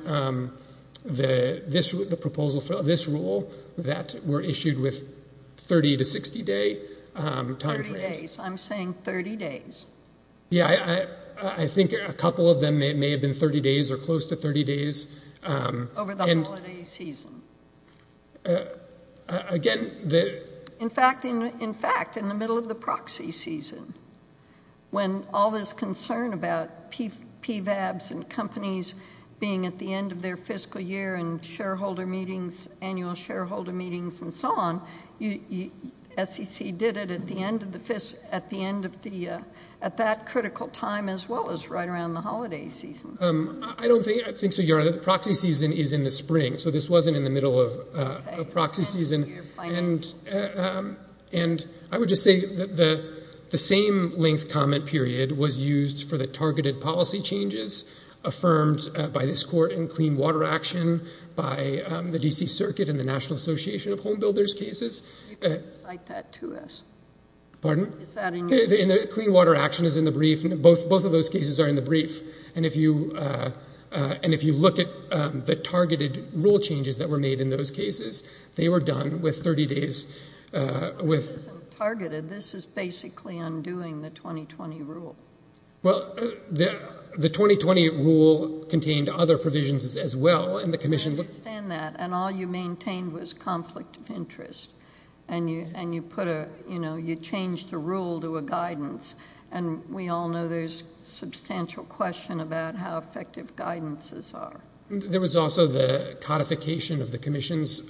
this rule that were issued with 30 to 60 day time frames. 30 days, I'm saying 30 days. Yeah, I think a couple of them may have been 30 days or close to 30 days. Over the holiday season. Again, the- In fact, in the middle of the proxy season, when all this concern about PVABs and companies being at the end of their fiscal year and shareholder meetings, annual shareholder meetings and so on, SEC did it at the end of the, at that critical time as well as right around the holiday season. I don't think so, Your Honor. The proxy season is in the spring, so this wasn't in the middle of proxy season. And I would just say that the same length comment period was used for the targeted policy changes affirmed by this court in clean water action by the D.C. Circuit and the National Association of Homebuilders cases. You can cite that to us. Pardon? Is that in your- Clean water action is in the brief. Both of those cases are in the brief. And if you look at the targeted rule changes that were made in those cases, they were done with 30 days with- This isn't targeted. This is basically undoing the 2020 rule. Well, the 2020 rule contained other provisions as well. And the commission- I understand that. And all you maintained was conflict of interest. And we all know there's substantial question about how effective guidances are. There was also the codification of the commission's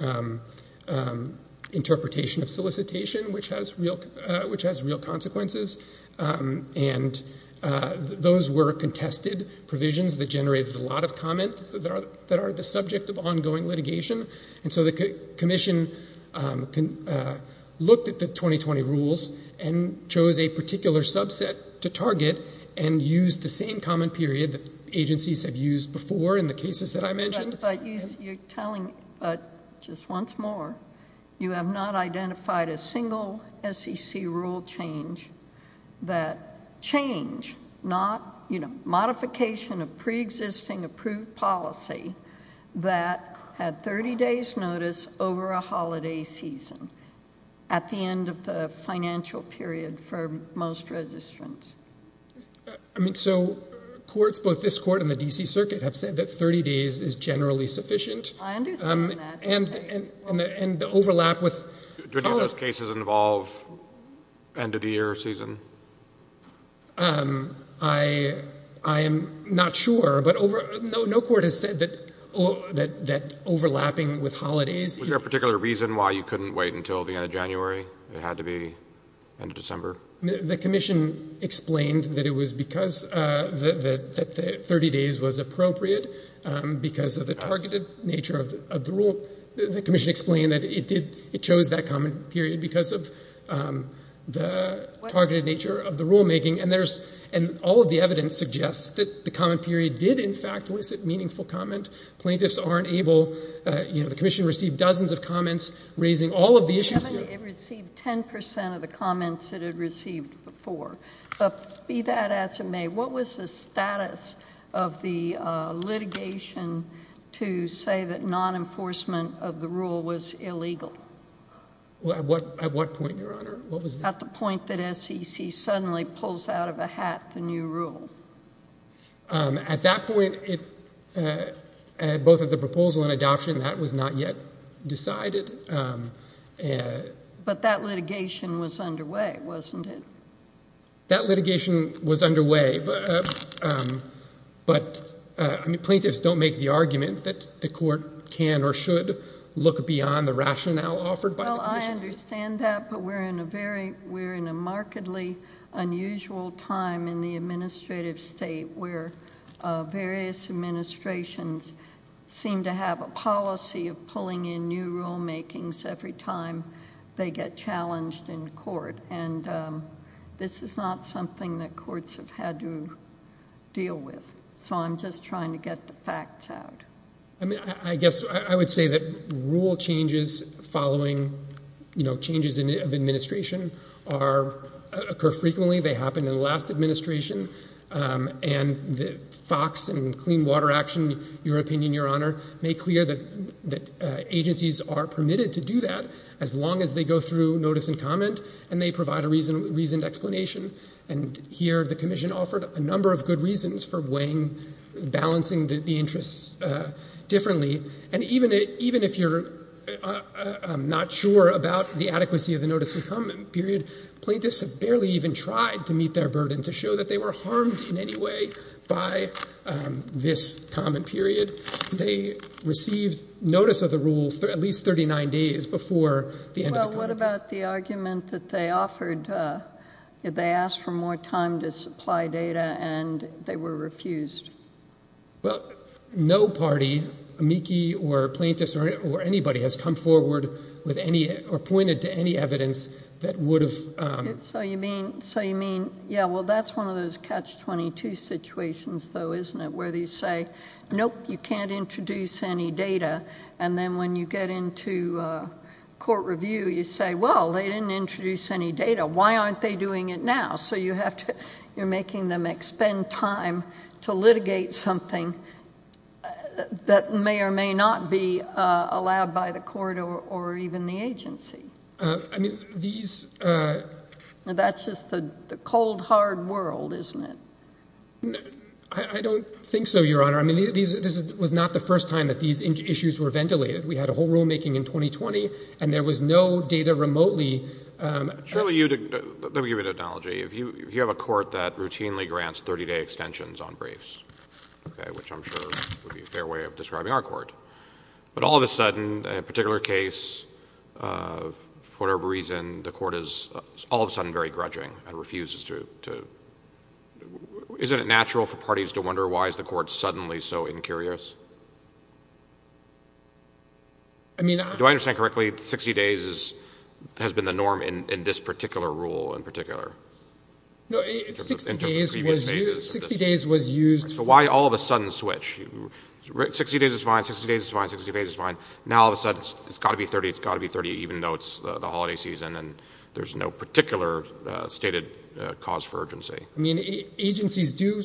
interpretation of solicitation, which has real consequences. And those were contested provisions that generated a lot of comment that are the subject of ongoing litigation. And so the commission looked at the 2020 rules and chose a particular subset to target and used the same comment period that agencies have used before in the cases that I mentioned. But you're telling, just once more, you have not identified a single SEC rule change that change, modification of preexisting approved policy that had 30 days notice over a holiday season at the end of the financial period for most registrants. I mean, so courts, both this court and the D.C. Circuit, have said that 30 days is generally sufficient. I understand that. And the overlap with- Do any of those cases involve end of the year or season? I am not sure. But no court has said that overlapping with holidays- Was there a particular reason why you couldn't wait until the end of January? It had to be end of December? The commission explained that it was because the 30 days was appropriate because of the targeted nature of the rule. The commission explained that it chose that comment period because of the targeted nature of the rulemaking. And all of the evidence suggests that the comment period did, in fact, elicit meaningful comment. Plaintiffs are unable-the commission received dozens of comments raising all of the issues here. It received 10 percent of the comments it had received before. Be that as it may, what was the status of the litigation to say that non-enforcement of the rule was illegal? At what point, Your Honor? At the point that SEC suddenly pulls out of a hat the new rule. At that point, both of the proposal and adoption, that was not yet decided. But that litigation was underway, wasn't it? That litigation was underway, but plaintiffs don't make the argument that the court can or should look beyond the rationale offered by the commission. I understand that, but we're in a very-we're in a markedly unusual time in the administrative state where various administrations seem to have a policy of pulling in new rulemakings every time they get challenged in court. And this is not something that courts have had to deal with, so I'm just trying to get the facts out. I guess I would say that rule changes following changes of administration occur frequently. They happened in the last administration, and FOX and Clean Water Action, Your Opinion, Your Honor, make clear that agencies are permitted to do that as long as they go through notice and comment and they provide a reasoned explanation. And here the commission offered a number of good reasons for weighing, balancing the interests differently. And even if you're not sure about the adequacy of the notice and comment period, plaintiffs have barely even tried to meet their burden to show that they were harmed in any way by this comment period. They received notice of the rule at least 39 days before the end of the comment period. The comment that they offered, they asked for more time to supply data, and they were refused. Well, no party, amici or plaintiffs or anybody, has come forward with any or pointed to any evidence that would have- So you mean, yeah, well, that's one of those catch-22 situations, though, isn't it, where they say, nope, you can't introduce any data, and then when you get into court review, you say, well, they didn't introduce any data. Why aren't they doing it now? So you have to-you're making them expend time to litigate something that may or may not be allowed by the court or even the agency. I mean, these- That's just the cold, hard world, isn't it? I don't think so, Your Honor. I mean, this was not the first time that these issues were ventilated. We had a whole rulemaking in 2020, and there was no data remotely- Let me give you an analogy. If you have a court that routinely grants 30-day extensions on briefs, which I'm sure would be a fair way of describing our court, but all of a sudden, a particular case, for whatever reason, the court is all of a sudden very grudging and refuses to- Isn't it natural for parties to wonder why is the court suddenly so incurious? Do I understand correctly, 60 days has been the norm in this particular rule in particular? No, 60 days was used- So why all of a sudden switch? 60 days is fine, 60 days is fine, 60 days is fine. Now, all of a sudden, it's got to be 30, it's got to be 30, even though it's the holiday season, and there's no particular stated cause for urgency. I mean, agencies do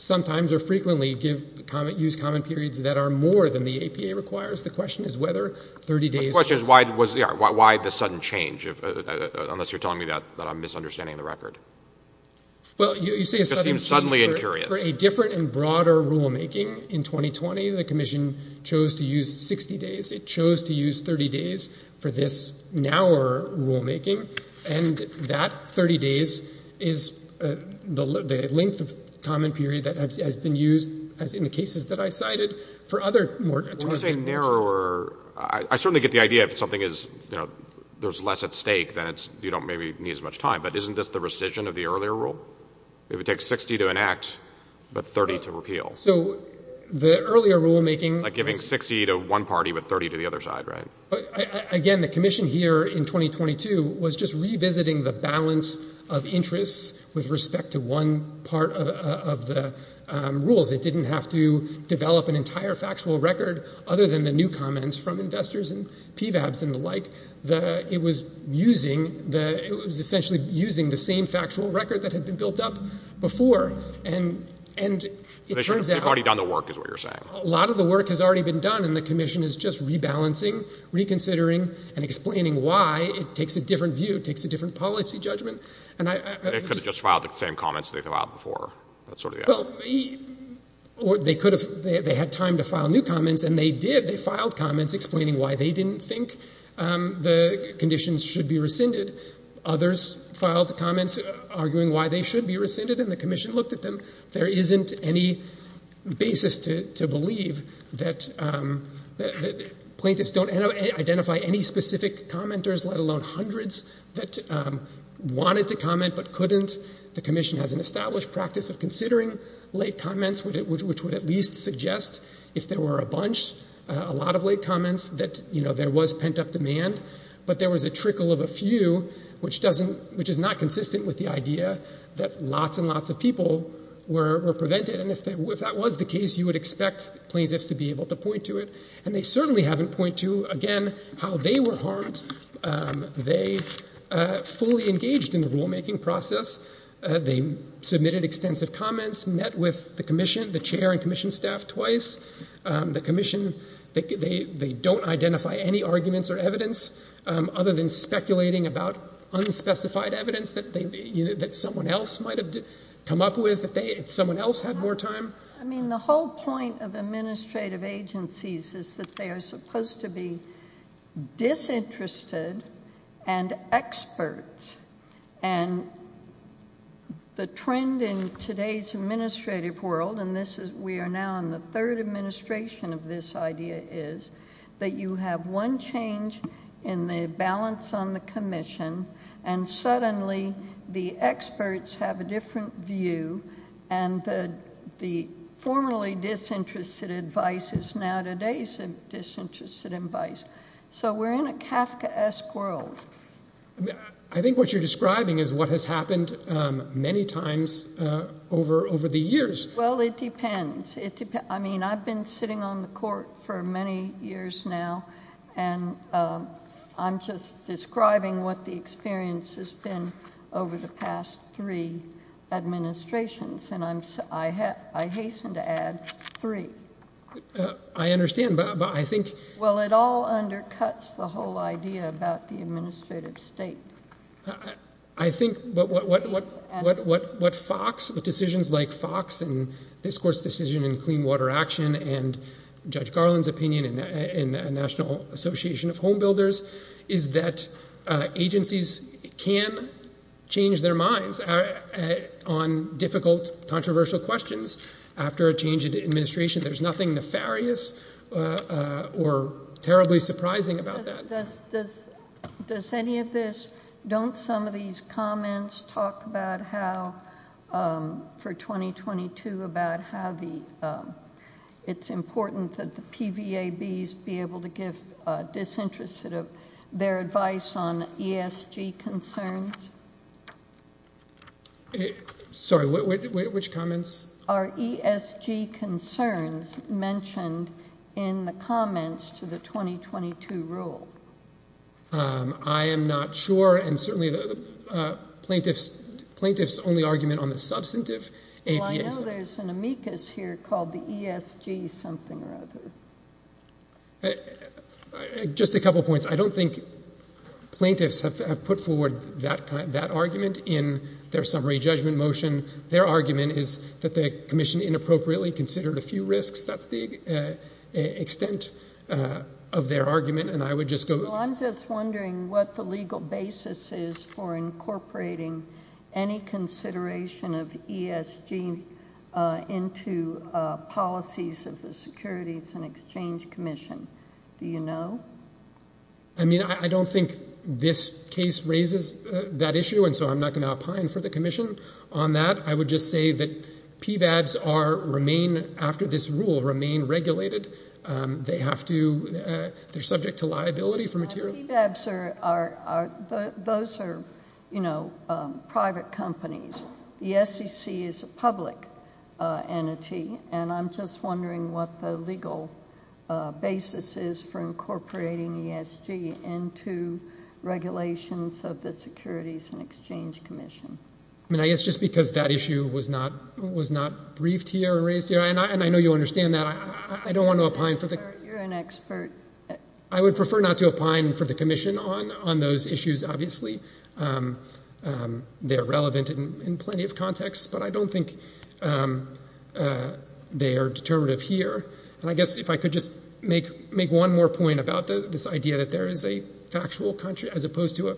sometimes or frequently use common periods that are more than the APA requires. The question is whether 30 days- The question is why the sudden change, unless you're telling me that I'm misunderstanding the record. Well, you say a sudden change- It just seems suddenly incurious. For a different and broader rulemaking in 2020, the commission chose to use 60 days. It chose to use 30 days for this narrower rulemaking, and that 30 days is the length of common period that has been used, as in the cases that I cited, for other more- When you say narrower, I certainly get the idea if something is, you know, there's less at stake, then you don't maybe need as much time, but isn't this the rescission of the earlier rule? It would take 60 to enact, but 30 to repeal. So the earlier rulemaking- 60 to one party, but 30 to the other side, right? Again, the commission here in 2022 was just revisiting the balance of interests with respect to one part of the rules. It didn't have to develop an entire factual record other than the new comments from investors and PVABs and the like. It was using the- it was essentially using the same factual record that had been built up before, and it turns out- They've already done the work, is what you're saying. A lot of the work has already been done, and the commission is just rebalancing, reconsidering, and explaining why. It takes a different view. It takes a different policy judgment, and I- They could have just filed the same comments they've filed before. That's sort of the- Well, they could have- they had time to file new comments, and they did. They filed comments explaining why they didn't think the conditions should be rescinded. Others filed comments arguing why they should be rescinded, and the commission looked at them. There isn't any basis to believe that plaintiffs don't identify any specific commenters, let alone hundreds that wanted to comment but couldn't. The commission has an established practice of considering late comments, which would at least suggest if there were a bunch, a lot of late comments, that there was pent-up demand. But there was a trickle of a few, which doesn't- which is not consistent with the idea that lots and lots of people were prevented. And if that was the case, you would expect plaintiffs to be able to point to it. And they certainly haven't pointed to, again, how they were harmed. They fully engaged in the rulemaking process. They submitted extensive comments, met with the commission, the chair and commission staff, twice. The commission, they don't identify any arguments or evidence, other than speculating about unspecified evidence that someone else might have come up with if someone else had more time. I mean, the whole point of administrative agencies is that they are supposed to be disinterested and experts. And the trend in today's administrative world, and we are now in the third administration of this idea, is that you have one change in the balance on the commission and suddenly the experts have a different view and the formerly disinterested advice is now today's disinterested advice. So we're in a Kafkaesque world. I think what you're describing is what has happened many times over the years. Well, it depends. I mean, I've been sitting on the court for many years now, and I'm just describing what the experience has been over the past three administrations, and I hasten to add three. I understand, but I think... Well, it all undercuts the whole idea about the administrative state. I think what FOX, decisions like FOX and this court's decision in clean water action and Judge Garland's opinion in the National Association of Home Builders, is that agencies can change their minds on difficult, controversial questions after a change in administration. There's nothing nefarious or terribly surprising about that. Does any of this, don't some of these comments talk about how, for 2022, about how it's important that the PVABs be able to give disinterested of their advice on ESG concerns? Sorry, which comments? Are ESG concerns mentioned in the comments to the 2022 rule? I am not sure, and certainly the plaintiff's only argument on the substantive... Well, I know there's an amicus here called the ESG something or other. Just a couple points. I don't think plaintiffs have put forward that argument in their summary judgment motion. Their argument is that the commission inappropriately considered a few risks. That's the extent of their argument, and I would just go... Well, I'm just wondering what the legal basis is for incorporating any consideration of ESG into policies of the Securities and Exchange Commission. Do you know? I mean, I don't think this case raises that issue, and so I'm not going to opine for the commission on that. I would just say that PVABs remain, after this rule, remain regulated. They have to, they're subject to liability for material... PVABs are, those are, you know, private companies. The SEC is a public entity, and I'm just wondering what the legal basis is for incorporating ESG into regulations of the Securities and Exchange Commission. I mean, I guess just because that issue was not briefed here and raised here, and I know you understand that, I don't want to opine for the... You're an expert. I would prefer not to opine for the commission on those issues, obviously. They're relevant in plenty of contexts, but I don't think they are determinative here. And I guess if I could just make one more point about this idea that there is a factual, as opposed to a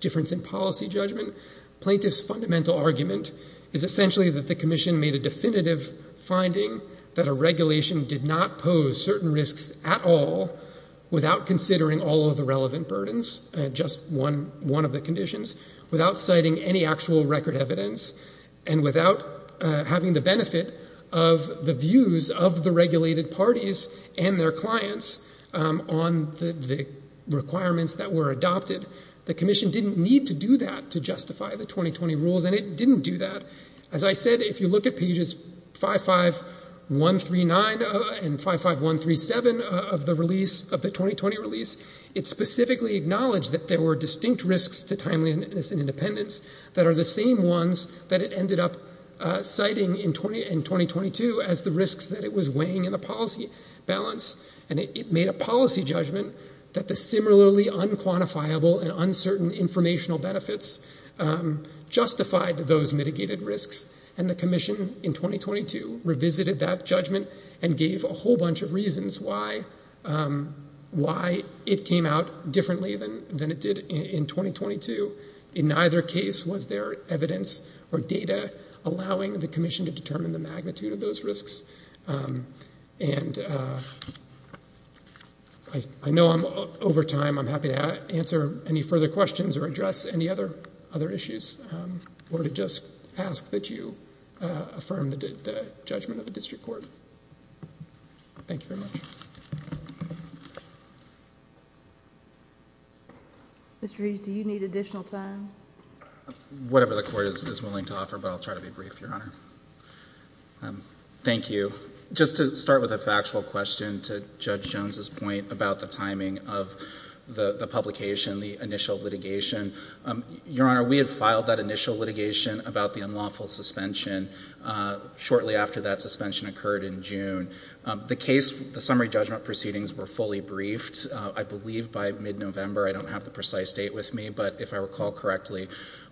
difference in policy judgment. Plaintiff's fundamental argument is essentially that the commission made a definitive finding that a regulation did not pose certain risks at all without considering all of the relevant burdens, just one of the conditions, without citing any actual record evidence, and without having the benefit of the views of the regulated parties and their clients on the requirements that were adopted. The commission didn't need to do that to justify the 2020 rules, and it didn't do that. As I said, if you look at pages 55139 and 55137 of the release, of the 2020 release, it specifically acknowledged that there were distinct risks to timeliness and independence that are the same ones that it ended up citing in 2022 as the risks that it was weighing in the policy balance. And it made a policy judgment that the similarly unquantifiable and uncertain informational benefits justified those mitigated risks. And the commission in 2022 revisited that judgment and gave a whole bunch of reasons why it came out differently than it did in 2022. In either case, was there evidence or data allowing the commission to determine the magnitude of those risks? And I know over time I'm happy to answer any further questions or address any other issues or to just ask that you affirm the judgment of the district court. Thank you very much. Mr. Reed, do you need additional time? Whatever the court is willing to offer, but I'll try to be brief, Your Honor. Thank you. Just to start with a factual question to Judge Jones's point about the timing of the publication, the initial litigation, Your Honor, we had filed that initial litigation about the unlawful suspension shortly after that suspension occurred in June. The case, the summary judgment proceedings were fully briefed, I believe, by mid-November. I don't have the precise date with me, but if I recall correctly,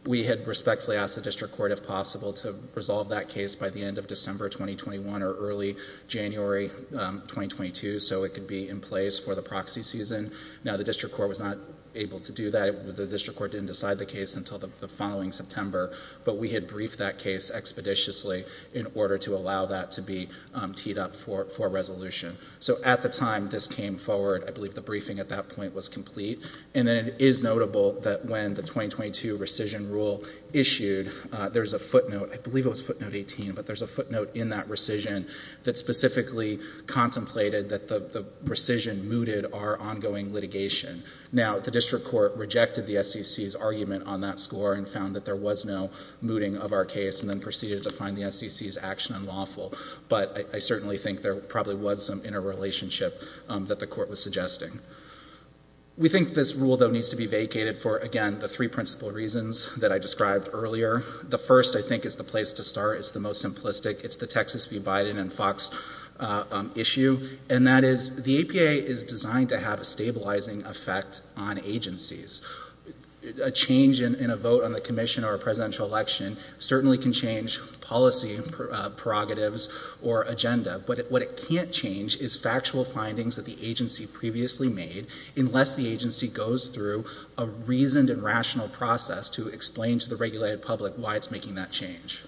we had respectfully asked the district court, if possible, to resolve that case by the end of December 2021 or early January 2022 so it could be in place for the proxy season. Now, the district court was not able to do that. The district court didn't decide the case until the following September, but we had briefed that case expeditiously in order to allow that to be teed up for resolution. So at the time this came forward, I believe the briefing at that point was complete, and then it is notable that when the 2022 rescission rule issued, there's a footnote, I believe it was footnote 18, but there's a footnote in that rescission that specifically contemplated that the rescission mooted our ongoing litigation. Now, the district court rejected the SEC's argument on that score and found that there was no mooting of our case and then proceeded to find the SEC's action unlawful, but I certainly think there probably was some interrelationship that the court was suggesting. We think this rule, though, needs to be vacated for, again, the three principal reasons that I described earlier. The first, I think, is the place to start. It's the most simplistic. It's the Texas v. Biden and Fox issue, and that is the APA is designed to have a stabilizing effect on agencies. A change in a vote on the commission or a presidential election certainly can change policy prerogatives or agenda, but what it can't change is factual findings that the agency previously made unless the agency goes through a reasoned and rational process to explain to the regulated public why it's making that change.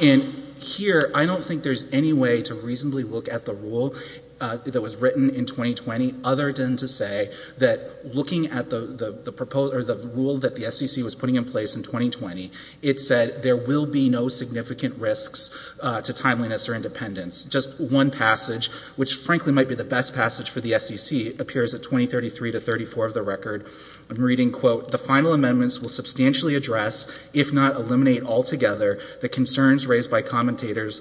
And here, I don't think there's any way to reasonably look at the rule that was written in 2020 other than to say that looking at the rule that the SEC was putting in place in 2020, it said there will be no significant risks to timeliness or independence. Just one passage, which frankly might be the best passage for the SEC, appears at 2033 to 2034 of the record. I'm reading, quote, The final amendments will substantially address, if not eliminate altogether, the concerns raised by commenters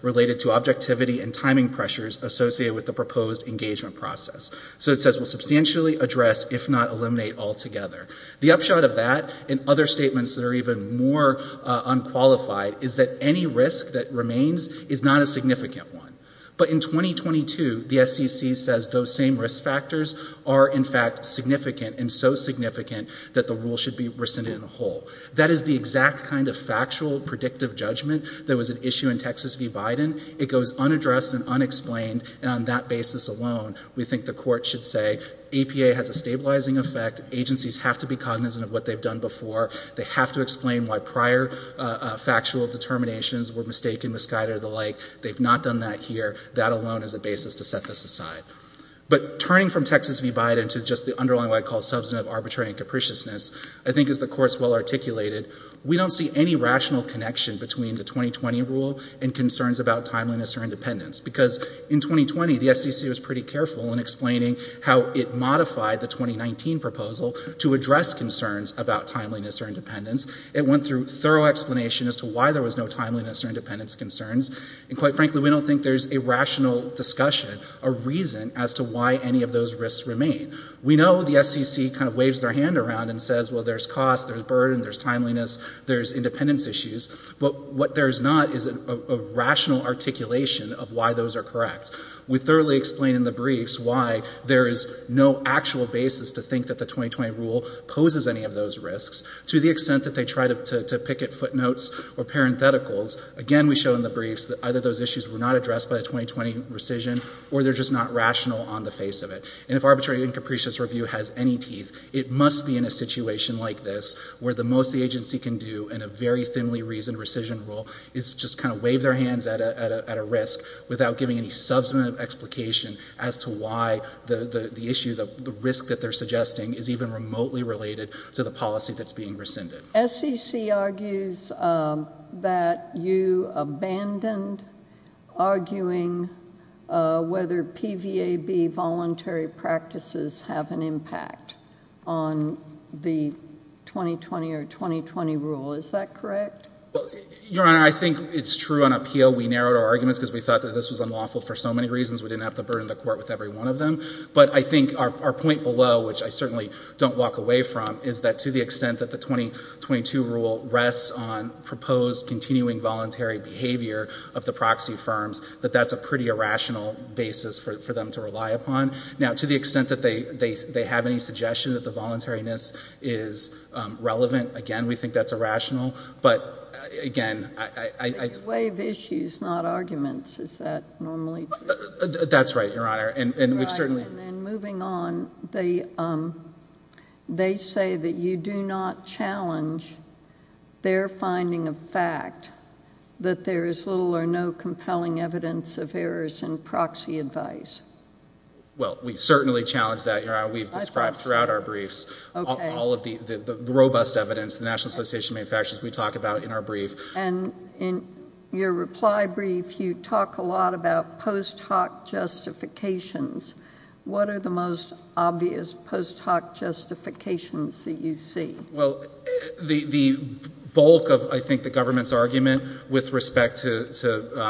related to objectivity and timing pressures associated with the proposed engagement process. So it says will substantially address, if not eliminate altogether. The upshot of that and other statements that are even more unqualified is that any risk that remains is not a significant one. But in 2022, the SEC says those same risk factors are, in fact, significant and so significant that the rule should be rescinded in the whole. That is the exact kind of factual, predictive judgment that was at issue in Texas v. Biden. It goes unaddressed and unexplained, and on that basis alone, we think the court should say APA has a stabilizing effect. Agencies have to be cognizant of what they've done before. They have to explain why prior factual determinations were mistaken, misguided, or the like. They've not done that here. That alone is a basis to set this aside. But turning from Texas v. Biden to just the underlying what I call substantive, arbitrary, and capriciousness, I think as the Court has well articulated, we don't see any rational connection between the 2020 rule and concerns about timeliness or independence because in 2020, the SEC was pretty careful in explaining how it modified the 2019 proposal to address concerns about timeliness or independence. It went through thorough explanation as to why there was no timeliness or independence concerns, and quite frankly, we don't think there's a rational discussion, a reason as to why any of those risks remain. We know the SEC kind of waves their hand around and says, well, there's cost, there's burden, there's timeliness, there's independence issues, but what there's not is a rational articulation of why those are correct. We thoroughly explain in the briefs why there is no actual basis to think that the 2020 rule poses any of those risks to the extent that they try to picket footnotes or parentheticals. Again, we show in the briefs that either those issues were not addressed by the 2020 rescission or they're just not rational on the face of it. And if arbitrary and capricious review has any teeth, it must be in a situation like this where the most the agency can do in a very thinly reasoned rescission rule is just kind of wave their hands at a risk without giving any substantive explication as to why the issue, the risk that they're suggesting, is even remotely related to the policy that's being rescinded. SCC argues that you abandoned arguing whether PVAB voluntary practices have an impact on the 2020 or 2020 rule. Is that correct? Your Honor, I think it's true on appeal. We narrowed our arguments because we thought that this was unlawful for so many reasons. We didn't have to burden the court with every one of them. But I think our point below, which I certainly don't walk away from, is that to the extent that the 2022 rule rests on proposed continuing voluntary behavior of the proxy firms, that that's a pretty irrational basis for them to rely upon. Now, to the extent that they have any suggestion that the voluntariness is relevant, again, we think that's irrational. But, again, I— Wave issues, not arguments. Is that normally— That's right, Your Honor. And we've certainly— And moving on, they say that you do not challenge their finding of fact that there is little or no compelling evidence of errors in proxy advice. Well, we certainly challenge that, Your Honor. I thought so. We've described throughout our briefs all of the robust evidence, the National Association of Manufacturers we talk about in our brief. And in your reply brief, you talk a lot about post hoc justifications. What are the most obvious post hoc justifications that you see? Well, the bulk of, I think, the government's argument with respect to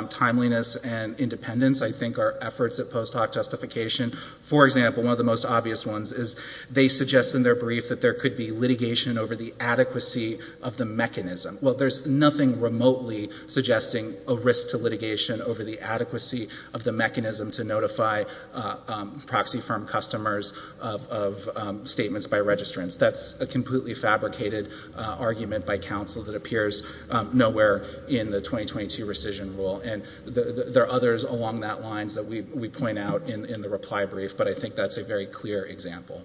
timeliness and independence, I think, are efforts at post hoc justification. For example, one of the most obvious ones is they suggest in their brief that there could be litigation over the adequacy of the mechanism. Well, there's nothing remotely suggesting a risk to litigation over the adequacy of the mechanism to notify proxy firm customers of statements by registrants. That's a completely fabricated argument by counsel that appears nowhere in the 2022 rescission rule. And there are others along that line that we point out in the reply brief, but I think that's a very clear example.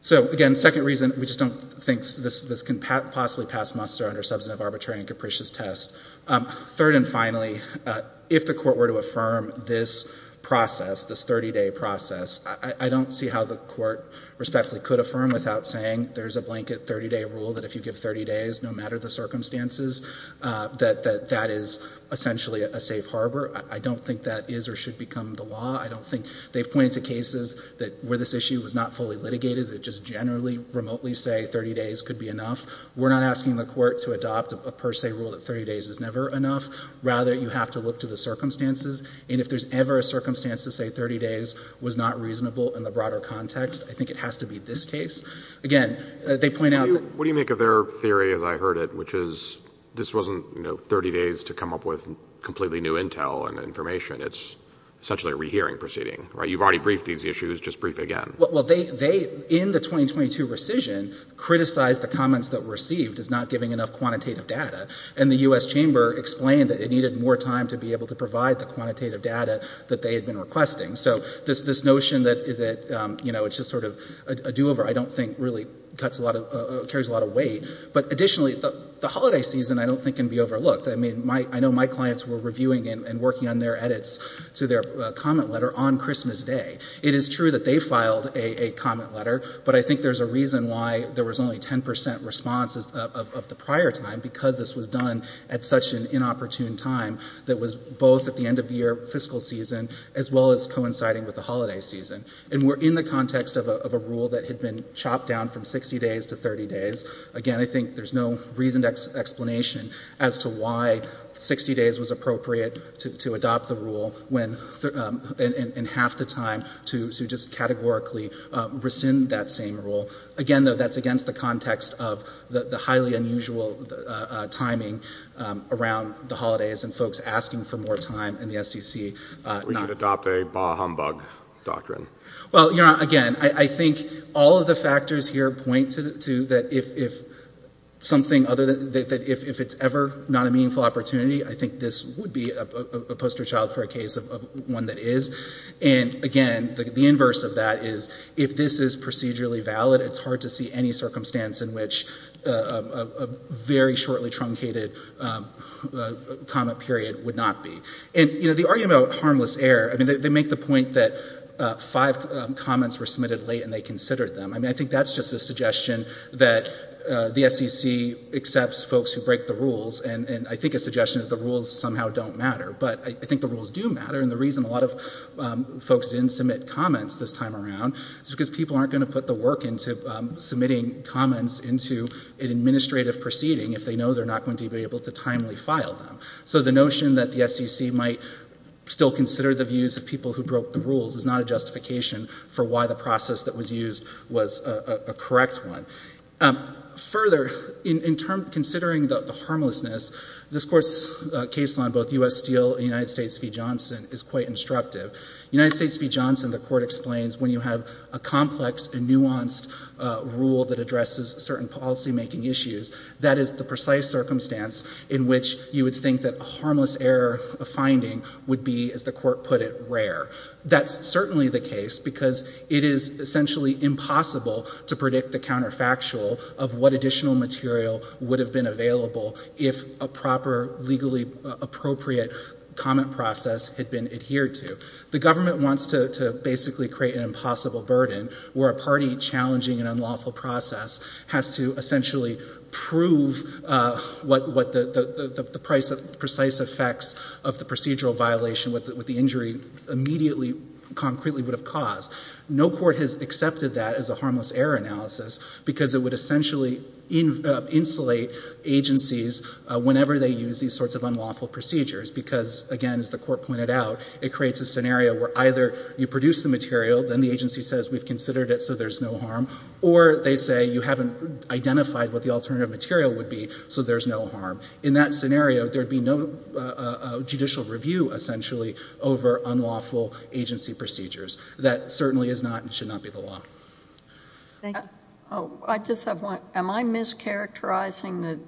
So, again, second reason, we just don't think this can possibly pass muster under substantive arbitrary and capricious test. Third and finally, if the court were to affirm this process, this 30-day process, I don't see how the court respectfully could affirm without saying there's a blanket 30-day rule that if you give 30 days, no matter the circumstances, that that is essentially a safe harbor. I don't think that is or should become the law. I don't think they've pointed to cases where this issue was not fully litigated that just generally, remotely say 30 days could be enough. We're not asking the court to adopt a per se rule that 30 days is never enough. Rather, you have to look to the circumstances. And if there's ever a circumstance to say 30 days was not reasonable in the broader context, I think it has to be this case. Again, they point out that— What do you make of their theory, as I heard it, which is this wasn't 30 days to come up with completely new intel and information. It's essentially a rehearing proceeding, right? You've already briefed these issues. Just brief it again. Well, they, in the 2022 rescission, criticized the comments that were received as not giving enough quantitative data. And the U.S. Chamber explained that it needed more time to be able to provide the quantitative data that they had been requesting. So this notion that it's just sort of a do-over I don't think really carries a lot of weight. But additionally, the holiday season I don't think can be overlooked. I mean, I know my clients were reviewing and working on their edits to their comment letter on Christmas Day. It is true that they filed a comment letter, but I think there's a reason why there was only 10 percent response of the prior time, because this was done at such an inopportune time that was both at the end of the year fiscal season as well as coinciding with the holiday season. And we're in the context of a rule that had been chopped down from 60 days to 30 days. Again, I think there's no reasoned explanation as to why 60 days was appropriate to adopt the rule when in half the time to just categorically rescind that same rule. Again, though, that's against the context of the highly unusual timing around the holidays and folks asking for more time in the SEC. We need to adopt a bah humbug doctrine. Well, again, I think all of the factors here point to that if it's ever not a meaningful opportunity, I think this would be a poster child for a case of one that is. And again, the inverse of that is if this is procedurally valid, it's hard to see any circumstance in which a very shortly truncated comment period would not be. And the argument about harmless error, they make the point that five comments were submitted late and they considered them. I think that's just a suggestion that the SEC accepts folks who break the rules and I think a suggestion that the rules somehow don't matter. But I think the rules do matter, and the reason a lot of folks didn't submit comments this time around is because people aren't going to put the work into submitting comments into an administrative proceeding if they know they're not going to be able to timely file them. So the notion that the SEC might still consider the views of people who broke the rules is not a justification for why the process that was used was a correct one. Further, in terms of considering the harmlessness, this Court's case on both U.S. Steele and United States v. Johnson is quite instructive. United States v. Johnson, the Court explains, when you have a complex and nuanced rule that addresses certain policymaking issues, that is the precise circumstance in which you would think that a harmless error finding would be, as the Court put it, rare. That's certainly the case because it is essentially impossible to predict the counterfactual of what additional material would have been available if a proper, legally appropriate comment process had been adhered to. The government wants to basically create an impossible burden where a party challenging an unlawful process has to essentially prove what the precise effects of the procedural violation with the injury immediately, concretely, would have caused. No court has accepted that as a harmless error analysis because it would essentially insulate agencies whenever they use these sorts of unlawful procedures because, again, as the Court pointed out, it creates a scenario where either you produce the material, then the agency says we've considered it, so there's no harm, or they say you haven't identified what the alternative material would be, so there's no harm. In that scenario, there would be no judicial review, essentially, over unlawful agency procedures. That certainly is not and should not be the law. Am I mischaracterizing the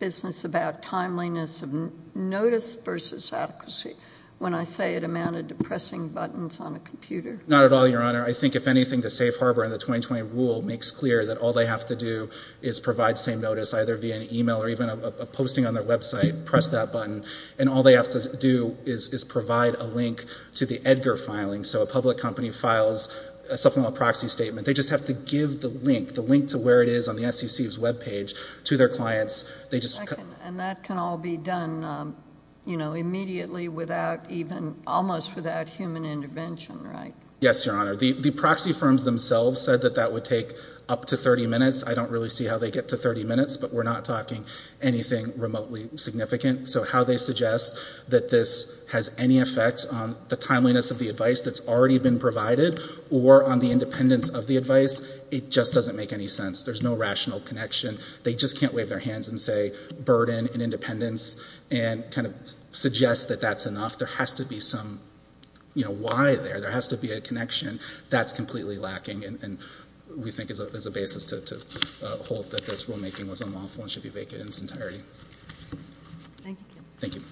business about timeliness of notice versus adequacy when I say it amounted to pressing buttons on a computer? Not at all, Your Honor. I think, if anything, the Safe Harbor and the 2020 rule makes clear that all they have to do is provide same notice, either via an email or even a posting on their website, press that button, and all they have to do is provide a link to the Edgar filing, so a public company files a supplemental proxy statement. They just have to give the link, the link to where it is on the SEC's web page, to their clients. And that can all be done immediately, almost without human intervention, right? Yes, Your Honor. The proxy firms themselves said that that would take up to 30 minutes. I don't really see how they get to 30 minutes, but we're not talking anything remotely significant. So how they suggest that this has any effect on the timeliness of the advice that's already been provided or on the independence of the advice, it just doesn't make any sense. There's no rational connection. They just can't wave their hands and say burden and independence and kind of suggest that that's enough. There has to be some why there. There has to be a connection. That's completely lacking and we think is a basis to hold that this rulemaking was unlawful and should be vacant in its entirety. Thank you, counsel. Thank you. Thank you.